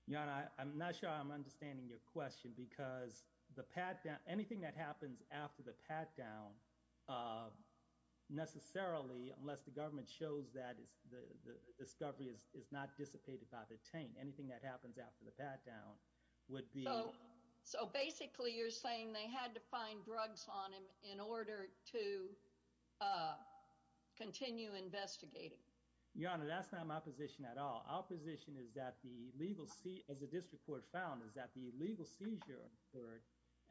Yeah, I'm not sure I'm understanding your question because anything that happens after the pat down necessarily, unless the government shows that the discovery is not dissipated by the chain, anything that happens after the pat down would be. So basically you're saying they had to find drugs on him in order to continue investigating? Your Honor, that's not my position at all. Our position is that the legal seat of the district court found is that the legal seizure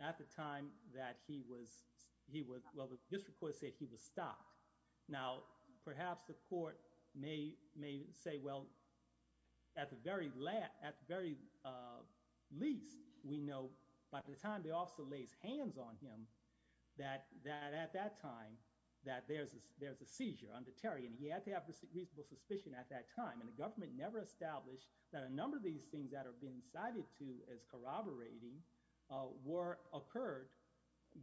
at the time that he was, he was, well the district court said he was stopped. Now perhaps the court may say, well, at the very least we know by the time the officer lays hands on him that at that time that there's a seizure under Terry and he had to have reasonable suspicion at that time. And the government never established that a number of these things that are being cited to as corroborating were occurred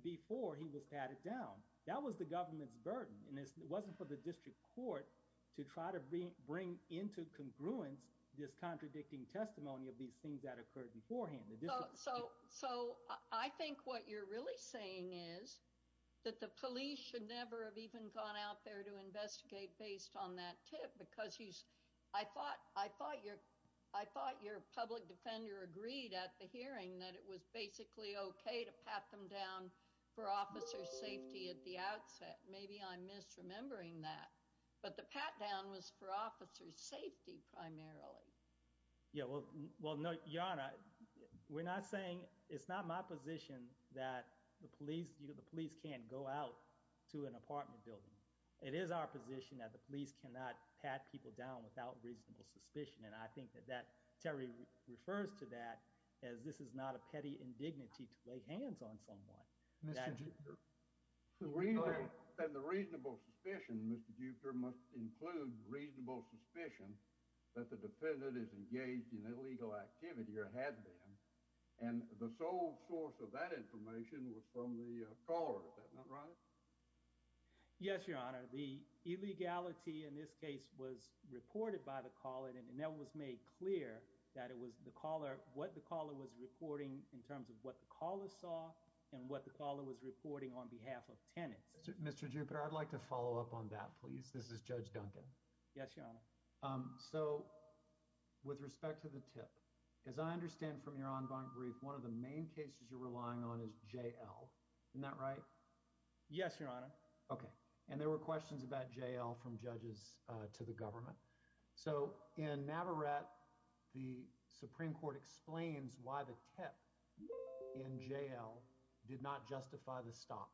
before he was patted down. That was the government's burden and it wasn't for the district court to try to bring into congruence this contradicting testimony of these things that occurred beforehand. So I think what you're really saying is that the police should never have even gone out there to investigate based on that tip because he's, I thought, I thought your public defender agreed at the hearing that it was basically okay to pat them down for officer's safety at the outset. Maybe I'm misremembering that, but the pat down was for officer's safety primarily. Yeah, well, no, Your Honor, we're not saying, it's not my position that the police, you know, the police can't go out to an apartment building. It is our position that the police cannot pat people down without reasonable suspicion. And I think that that, Terry refers to that as this is not a petty indignity to lay hands on someone. And the reasonable suspicion, Mr. Jupiter, must include reasonable suspicion that the defendant is engaged in illegal activity or had been. And the sole source of that information was from the caller. Is that not right? Yes, Your Honor. The illegality in this case was reported by the caller and that was made clear that it was the caller, what the caller was reporting in terms of what the caller saw and what the caller was reporting on behalf of tenants. Mr. Jupiter, I'd like to follow up on that, please. This is Judge Duncan. Yes, Your Honor. So with respect to the tip, as I understand from your ongoing brief, one of the main cases you're relying on is JL. Isn't that right? Yes, Your Honor. Okay. And there were questions about JL from judges to the government. So in Navarat, the Supreme Court explains why the tip in JL did not justify the stop.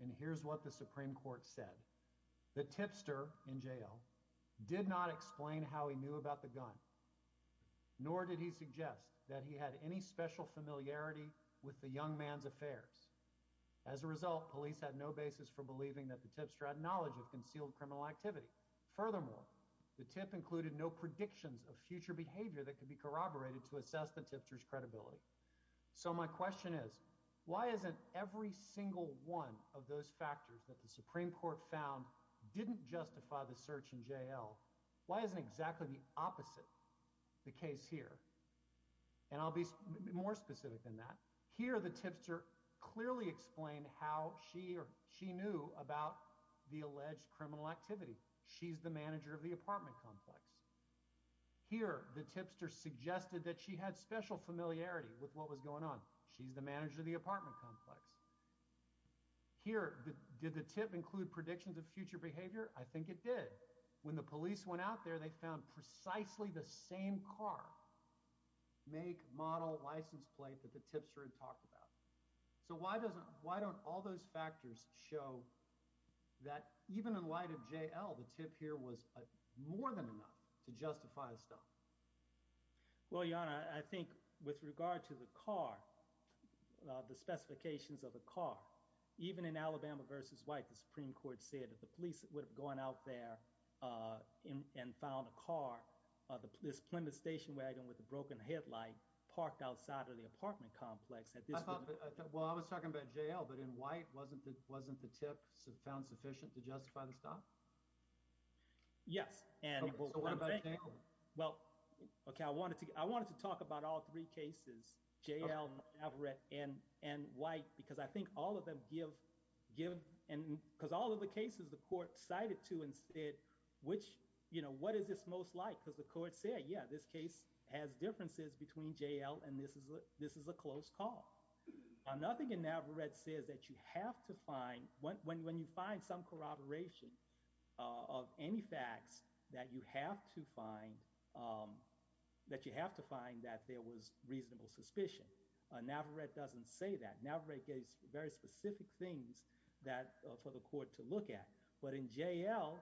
And here's what the Supreme Court said. The tipster in JL did not explain how he knew about the gun, nor did he suggest that he had any special familiarity with the young man's affairs. As a result, police had no basis for believing that the tipster had knowledge of concealed criminal activity. Furthermore, the tip included no predictions of future behavior that could be corroborated to assess the tipster's credibility. So my question is, why isn't every single one of those factors that the Supreme Court found didn't justify the search in JL? Why isn't exactly the case here? And I'll be more specific than that. Here, the tipster clearly explained how she knew about the alleged criminal activity. She's the manager of the apartment complex. Here, the tipster suggested that she had special familiarity with what was going on. She's the manager of the apartment complex. Here, did the tip include predictions of future behavior? I think it did. When the police went out there, they found precisely the same car, make, model, license plate that the tipster had talked about. So why don't all those factors show that even in light of JL, the tip here was more than enough to justify the stop? Well, Your Honor, I think with regard to the car, the specifications of the car, even in Alabama v. White, the Supreme Court said that the police would have gone out there and found a car, this Plymouth station wagon with a broken headlight, parked outside of the apartment complex. Well, I was talking about JL, but in White, wasn't the tip found sufficient to justify the stop? Yes. Okay, I wanted to talk about all three cases, JL, Maverick, and White, because I think all of them give, because all of the cases the court cited to and said, what is this most like? Because the court said, yeah, this case has differences between JL and this is a close call. Nothing in Navarette says that you have to find, when you find some corroboration of any facts, that you have to find that there was reasonable suspicion. Navarette doesn't say that. Navarette gave very specific things that for the court to look at. But in JL,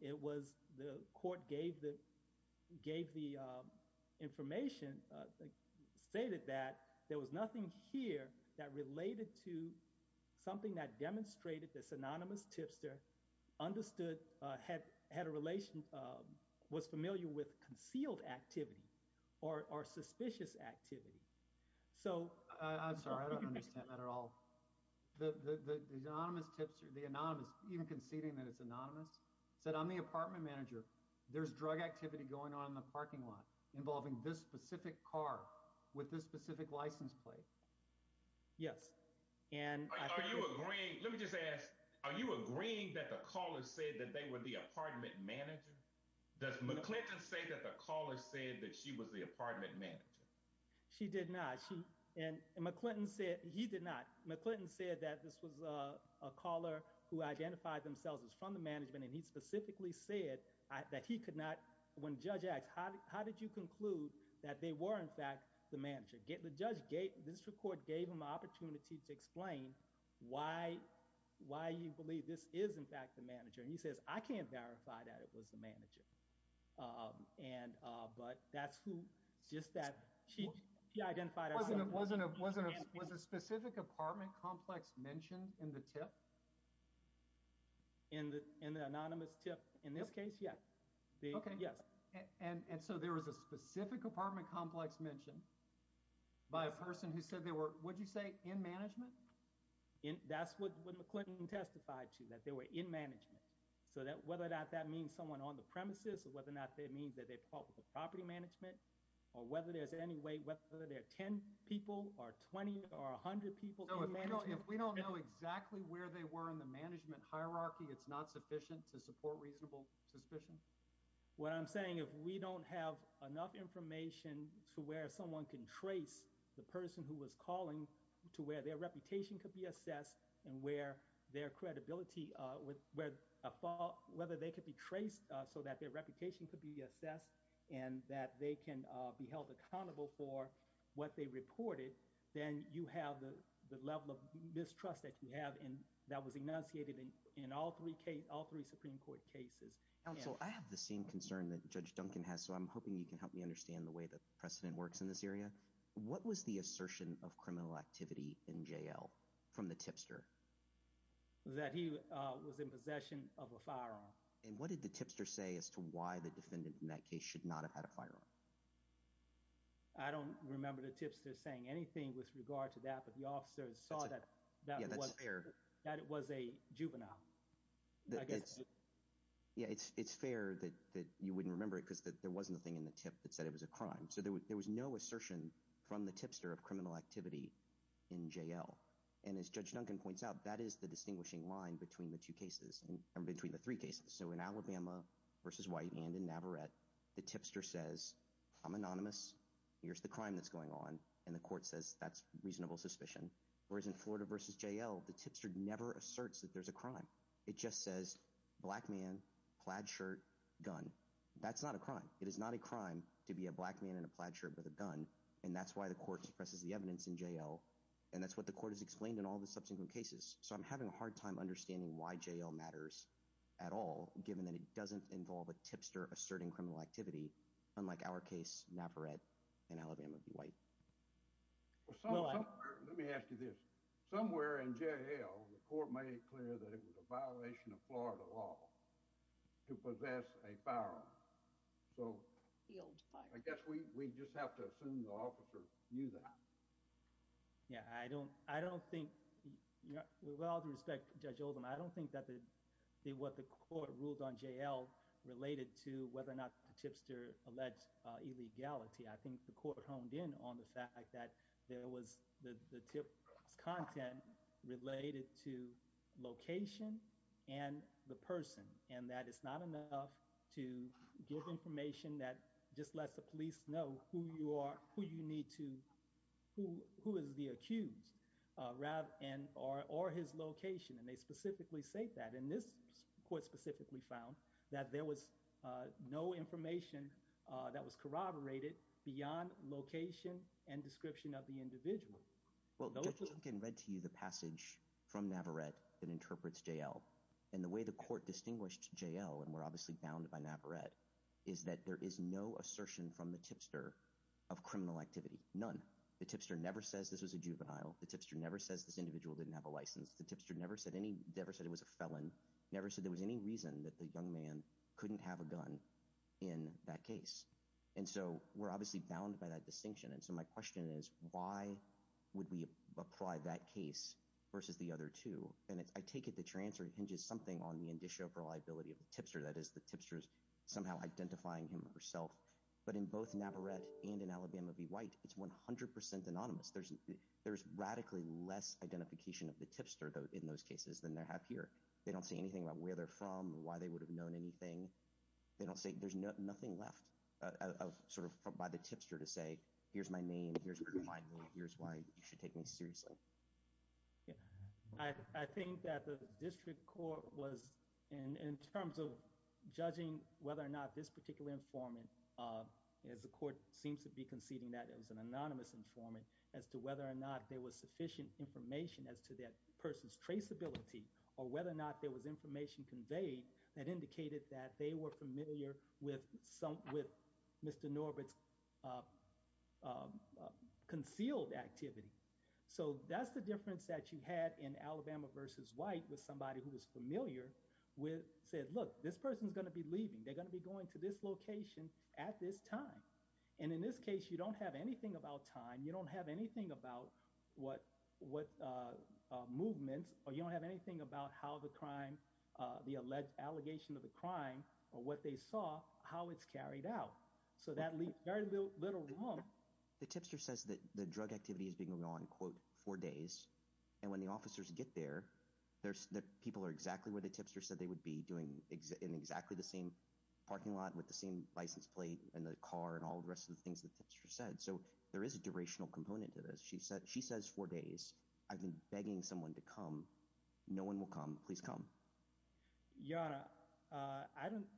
it was the court gave the information, stated that there was nothing here that related to something that demonstrated this anonymous tipster understood, had a relation, was familiar with concealed activity or suspicious activity. So, I'm sorry, I don't understand that at all. The anonymous tipster, the anonymous, even conceding that it's anonymous, said, I'm the apartment manager, there's drug activity going on in the parking lot involving this specific car with this specific license plate. Yes. Are you agreeing, let me just ask, are you agreeing that the caller said that they were the apartment manager? Does McClinton say that the caller said that she was the apartment manager? She did not. And McClinton said, he did not. McClinton said that this was a caller who identified themselves as from the management and he specifically said that he could not, when judge asked, how did you conclude that they were in fact the manager? The judge gave, the district court gave him the opportunity to explain why you believe this is in fact the manager. And he says, I can't verify that it was the manager. And, but that's who, just that, she identified herself. Was a specific apartment complex mentioned in the tip? In the, in the anonymous tip, in this case, yes. Okay. Yes. And, and so there was a specific apartment complex mentioned by a person who said they were, would you say in management? That's what McClinton testified to, that they were in management. So that, whether or not that means someone on the premises or whether or not that means that they're called the property management or whether there's any way, whether there are 10 people or 20 or a hundred people. If we don't know exactly where they were in the management hierarchy, it's not sufficient to support reasonable suspicion. What I'm saying, if we don't have enough information to where someone can trace the person who was calling to where their reputation could be assessed and where their credibility, whether they could be traced so that their reputation could be assessed and that they can be held accountable for what they reported, then you have the level of mistrust that you have in, that was enunciated in, in all three cases, all three Supreme Court cases. Counsel, I have the same concern that Judge Duncan has. So I'm hoping you can help me understand the way the precedent works in this area. What was the assertion of criminal activity in jail from the tipster? That he was in possession of a firearm. And what did the tipster say as to why the defendant in that case should not have had a firearm? I don't remember the tipster saying anything with regard to that, but the officer saw that, that was a juvenile. Yeah, it's fair that you wouldn't remember it because there wasn't a thing in the tip that said it was a crime. So there was no assertion from the tipster of criminal activity in jail. And as Judge Duncan points out, that is the distinguishing line between the two cases or between the three cases. So in Alabama versus White and in Navarrette, the tipster says, I'm anonymous. Here's the crime that's going on. And the court says that's reasonable suspicion. Whereas in Florida versus JL, the tipster never asserts that there's a crime. It just says, black man, plaid shirt, gun. That's not a crime. It is not a crime to be a black man in a plaid shirt with a gun. And that's why the court suppresses the evidence in JL. And that's what the court has explained in all the subsequent cases. So I'm having a hard time understanding why JL matters at all, given that it doesn't involve a tipster asserting criminal activity, unlike our case, Navarrette and Alabama v. White. Let me ask you this. Somewhere in JL, the court made it clear that it was a violation of Florida law to possess a firearm. So I guess we just have to assume the officer knew that. Yeah. I don't think, with all due respect to Judge Oldham, I don't think that what the court ruled on JL related to whether or not the tipster alleged illegality. I think the court honed in on the fact that there was the tip content related to location and the person. And that it's not enough to give information that just let the police know who you are, who you need to, who is the accused, or his location. And they specifically state that. And this court specifically found that there was no information that was corroborated beyond location and description of the individual. Well, the court can read to you the passage from Navarrette that interprets JL. And the way the court distinguished JL, and we're obviously bound by Navarrette, is that there is no assertion from the tipster of criminal activity. None. The tipster never says this is a juvenile. The tipster never says this individual didn't have a license. The tipster never said any, never said it was a felon, never said there was any reason that the young man couldn't have a gun in that case. And so we're obviously bound by that the other two. And I take it that your answer hinges something on the indicia of reliability of the tipster. That is, the tipster is somehow identifying him or herself. But in both Navarrette and in Alabama v. White, it's 100% anonymous. There's radically less identification of the tipster in those cases than they have here. They don't say anything about where they're from, why they would have known anything. They don't say, there's nothing left of sort of by the tipster to say, here's my name, here's where I'm from, here's why you should take me seriously. Yeah. I think that the district court was, in terms of judging whether or not this particular informant, as the court seems to be conceding that as an anonymous informant, as to whether or not there was sufficient information as to that person's traceability, or whether or not there was information conveyed that indicated that they were familiar with Mr. Norbert's concealed activity. So that's the difference that you had in Alabama v. White with somebody who was familiar with, said, look, this person's going to be leaving. They're going to be going to this location at this time. And in this case, you don't have anything about time. You don't have anything about what movement, or you don't have anything about how the crime, the alleged allegation of crime, or what they saw, how it's carried out. So that leaves very little room. The tipster says that the drug activity has been going on, quote, four days. And when the officers get there, people are exactly where the tipster said they would be, doing exactly the same parking lot, with the same license plate, and the car, and all the rest of the things the tipster said. So there is a durational component to this. She says four days. I've been begging someone to come. No one will come. Please come. Your Honor,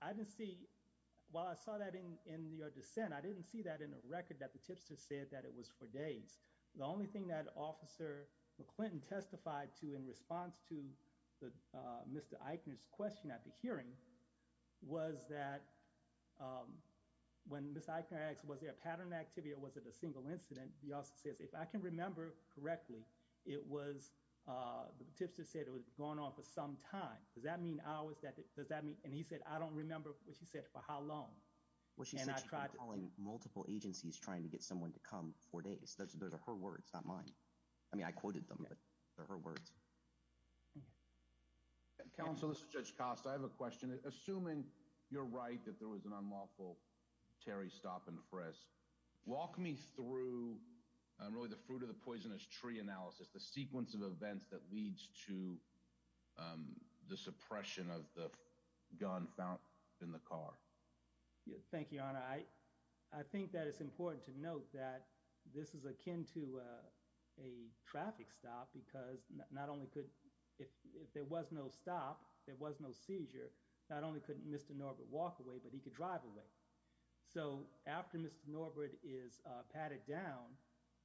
I didn't see, while I saw that in your dissent, I didn't see that in the record that the tipster said that it was four days. The only thing that Officer McClinton testified to, in response to Mr. Eichner's question at the hearing, was that when Ms. Eichner asked, was there a pattern of activity, or was it a single incident, the officer said, if I can remember correctly, it was, the tipster said it was going on for some time. Does that mean hours, does that mean, and he said, I don't remember what she said for how long. Well, she's been calling multiple agencies trying to get someone to come four days. Those are her words, not mine. I mean, I quoted them, but they're her words. Counsel, this is Judge Costa. I have a question. Assuming you're right that there was an unlawful Terry stop and press, walk me through, and really the fruit of the poisonous tree analysis, the sequence of events that leads to the suppression of the gun found in the car. Thank you, Your Honor. I think that it's important to note that this is akin to a traffic stop, because not only could, if there was no stop, there was no seizure, not only could Mr. Norbert walk away, but he could drive away. So, after Mr. Norbert is patted down,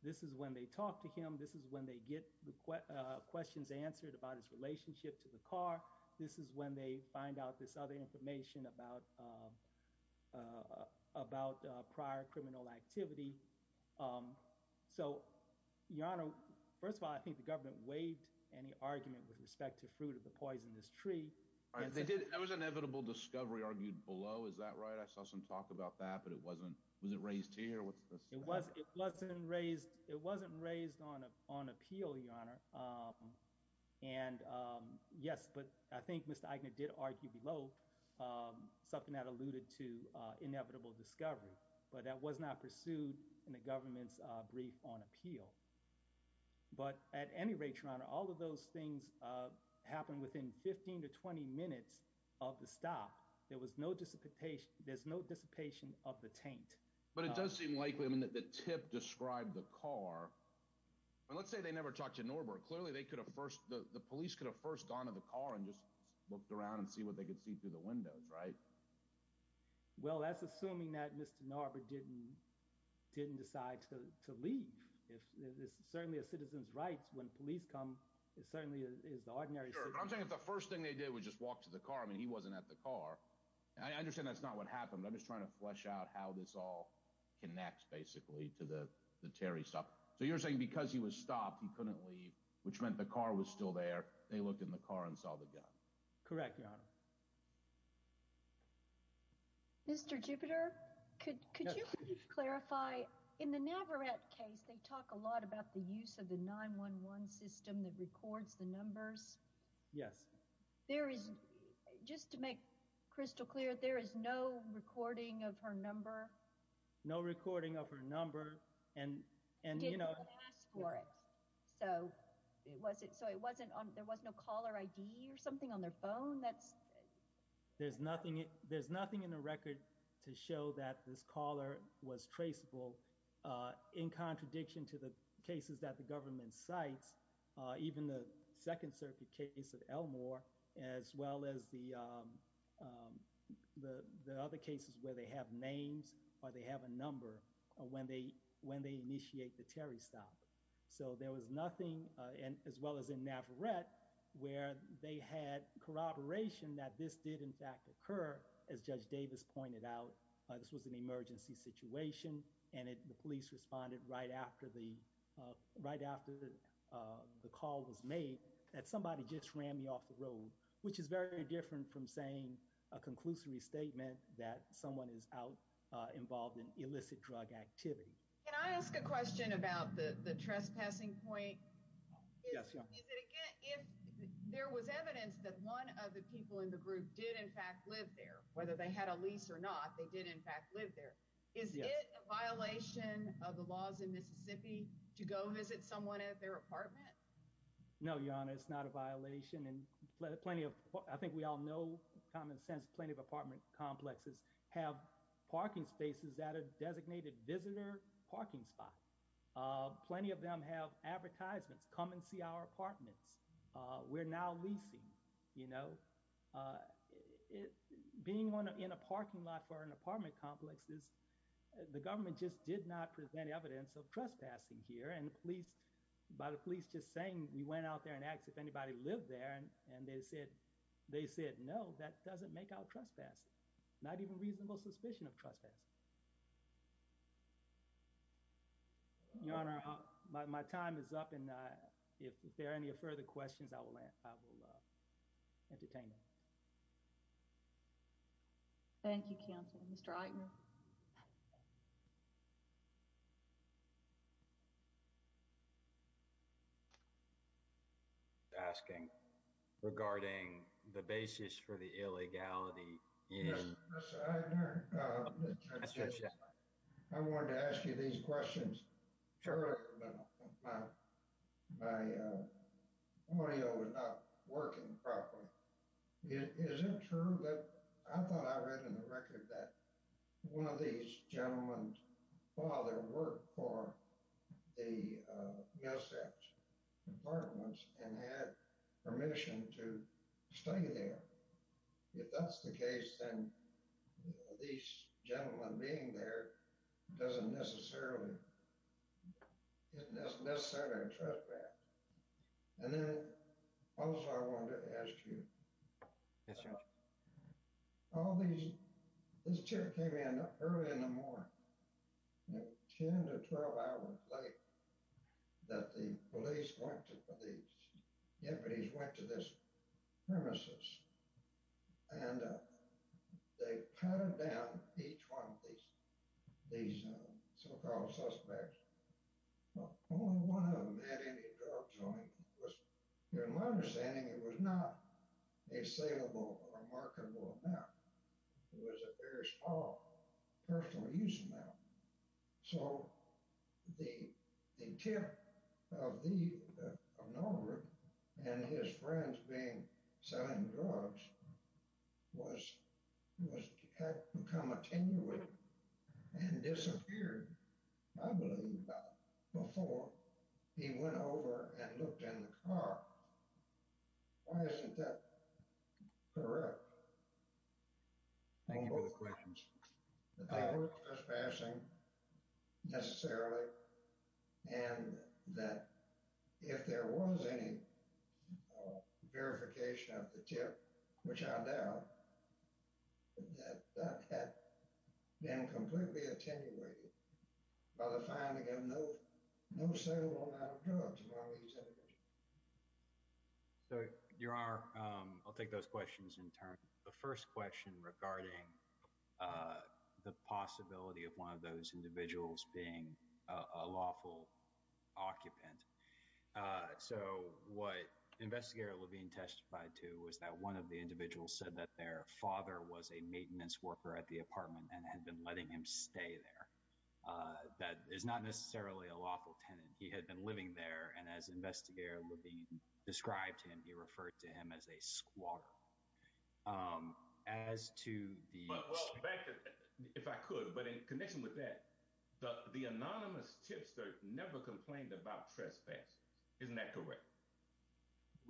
this is when they talk to him. This is when they get the questions answered about his relationship to the car. This is when they find out this other information about prior criminal activity. So, Your Honor, first of all, I think the government waived any argument with respect to fruit of the poisonous tree. That was inevitable discovery argued below, is that right? I saw some talk about that, but it wasn't raised here. It wasn't raised on appeal, Your Honor, and yes, but I think Mr. Aigner did argue below something that alluded to inevitable discovery, but that was not pursued in the government's on appeal. But at any rate, Your Honor, all of those things happened within 15 to 20 minutes of the stop. There was no dissipation, there's no dissipation of the taint. But it does seem likely that the tip described the car. Let's say they never talked to Norbert. Clearly, they could have first, the police could have first gone to the car and just looked around and see what they could see through the windows, right? Well, that's assuming that Mr. Norbert didn't decide to leave. It's certainly a citizen's right when police come. It certainly is ordinary. I'm saying that the first thing they did was just walk to the car. I mean, he wasn't at the car. I understand that's not what happened. I'm just trying to flesh out how this all connects, basically, to the Terry stuff. So, you're saying because he was stopped, he couldn't leave, which meant the car was still there. They looked in the car and saw the gun. Correct, Your Honor. Mr. Jupiter, could you please clarify, in the Navarette case, they talk a lot about the use of the 911 system that records the numbers. Yes. Just to make crystal clear, there is no recording of her number? No recording of her number. So, there was no caller ID or something on their phone? There's nothing in the record to show that this caller was traceable, in contradiction to the cases that the government cites, even the Second Circuit case of Elmore, as well as the other cases where they have names or they have a number when they initiate the Terry stop. So, there was nothing, as well as in Navarette, where they had corroboration that this did, in fact, occur, as Judge Davis pointed out. This was an emergency situation, and the police responded right after the call was made that somebody just ran me off the road, which is very different from saying a conclusive statement that someone is involved in illicit drug activity. Can I ask a question about the trespassing point? Yes, Your Honor. There was evidence that one of the people in the group did, in fact, live there. Whether they had a lease or not, they did, in fact, live there. Is it a violation of the laws in Mississippi to go visit someone at their apartment? No, Your Honor, it's not a violation, and plenty of, I think we all know common sense, plenty of apartment complexes have parking spaces that are designated visitor parking spots. Plenty of them have advertisements, come and see our apartment. We're now leasing, you know. Being in a parking lot for an apartment complex is, the government just did not present evidence of trespassing here, and the police, by the police just saying, we went out there and asked if anybody lived there, and they said, they said, no, that doesn't make out trespassing, not even reasonable suspicion of trespassing. Your Honor, my time is up, and if there are any further questions, I will entertain them. Thank you, counsel. Mr. Eitner? I'm asking regarding the basis for the illegality. I wanted to ask you these questions. My audio is not working properly. Is it true that, I thought I read in the record that one of these gentlemen's father worked for the USF's apartments, and had permission to stay there. If that's the case, then these gentlemen being there doesn't necessarily, isn't necessarily a trespass. And then, also, I wanted to ask you, yes, Your Honor. All these, this trip came in early in the morning, 10 to 12 hours late, that the police went to, the deputies went to this premises, and they patted down each one of these, these so-called suspects. Only one of them had any joint. In my understanding, it was not a salable or marketable amount. It was a very small personal use amount. So, the tip of the, of Norbert, and his friends being selling drugs, was, had become attenuated and disappeared, I believe, before he went over and looked in the car. Why isn't that correct? Thank you for the questions. I heard trespassing, necessarily, and that if there was any verification of the tip, which I doubt, that had been completely attenuated by the finding of no, no salable amount of drugs in one of these individuals. So, Your Honor, I'll take those questions in turn. The first question regarding the possibility of one of those individuals being a lawful occupant. So, what Investigator Levine testified to was that one of the individuals said that their father was a maintenance worker at the apartment and had been letting him stay there. That is not necessarily a lawful tenant. He had been living there, and as Investigator Levine described to him, he referred to him as a squatter. As to the... Well, thank you, if I could, but in connection with that, the anonymous tipster never complained about trespass. Isn't that correct?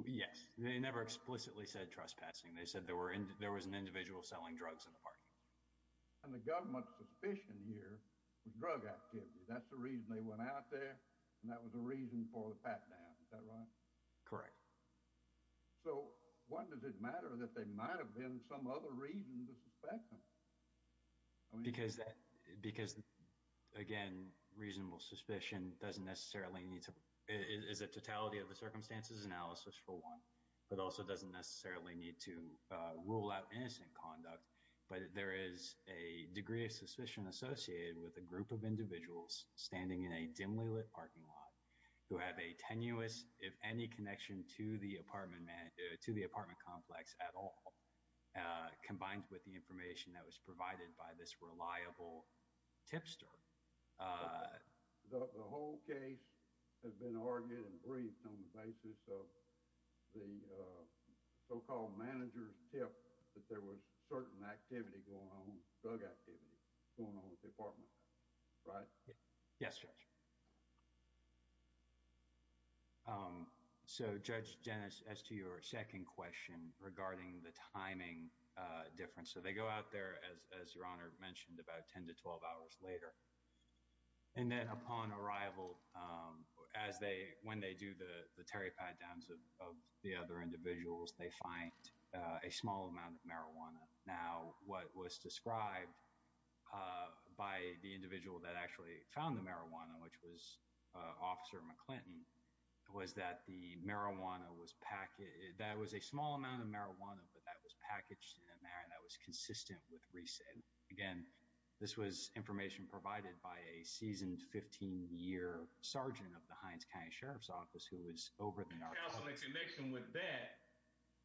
Yes. They never explicitly said trespassing. They said there were, there was an individual selling drugs in the apartment. And they got much suspicion here with drug activity. That's the reason they went out there, and that was a reason for the pat-down. Is that right? Correct. So, why does it matter that there might have been some other reason to suspect them? Because, again, reasonable suspicion doesn't necessarily need to... It is a totality of a circumstances analysis for one, but also doesn't necessarily need to rule out innocent conduct. But there is a degree of suspicion associated with a group of individuals standing in a dimly lit parking lot who have a tenuous, if any, connection to the apartment complex at all, combined with the information that was provided by this reliable tipster. The whole case has been argued and agreed on the basis of the so-called manager's tip that there was certain activity going on, drug activity, going on at the apartment complex. Right? Yes, Judge. So, Judge Dennis, as to your second question regarding the timing difference. So, they go out there, as Your Honor mentioned, about 10 to 12 hours later. And then, upon arrival, as they... When they do the terry pat-downs of the other individuals, they find a small amount of marijuana. Now, what was described by the individual that actually found the marijuana, which was Officer McClinton, was that the marijuana was... That was a small amount of marijuana, but that was packaged in a manner that was consistent with reason. Again, this was Sergeant of the Heinz County Sheriff's Office, who was over at the... Now, in connection with that,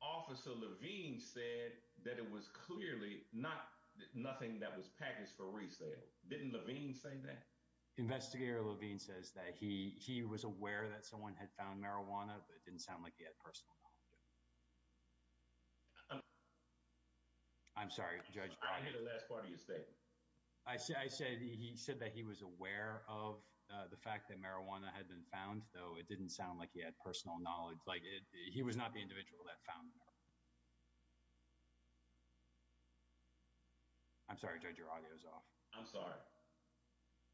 Officer Levine said that it was clearly not nothing that was packaged for resale. Didn't Levine say that? Investigator Levine says that he was aware that someone had found marijuana, but it didn't sound like he had personal knowledge of it. I'm sorry, Judge. I didn't hear the last part of your statement. I said that he was aware of the fact that marijuana had been found, though it didn't sound like he had personal knowledge. He was not the individual that found it. I'm sorry, Judge. Your audio is off. I'm sorry.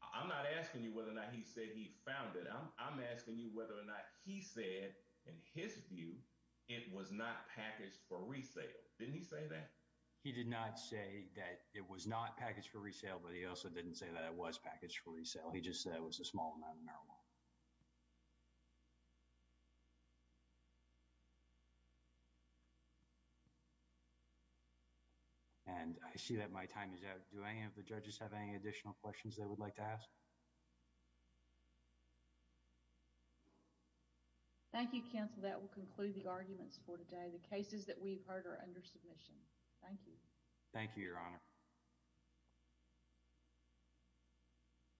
I'm not asking you whether or not he said he found it. I'm asking you whether or not he said, in his view, it was not packaged for resale, but he also didn't say that it was packaged for resale. He just said it was a small amount of marijuana. I see that my time is up. Do any of the judges have any additional questions they would like to ask? Thank you, counsel. That will conclude the arguments for today. The cases that we've heard are under submission. Thank you. Thank you, Your Honor.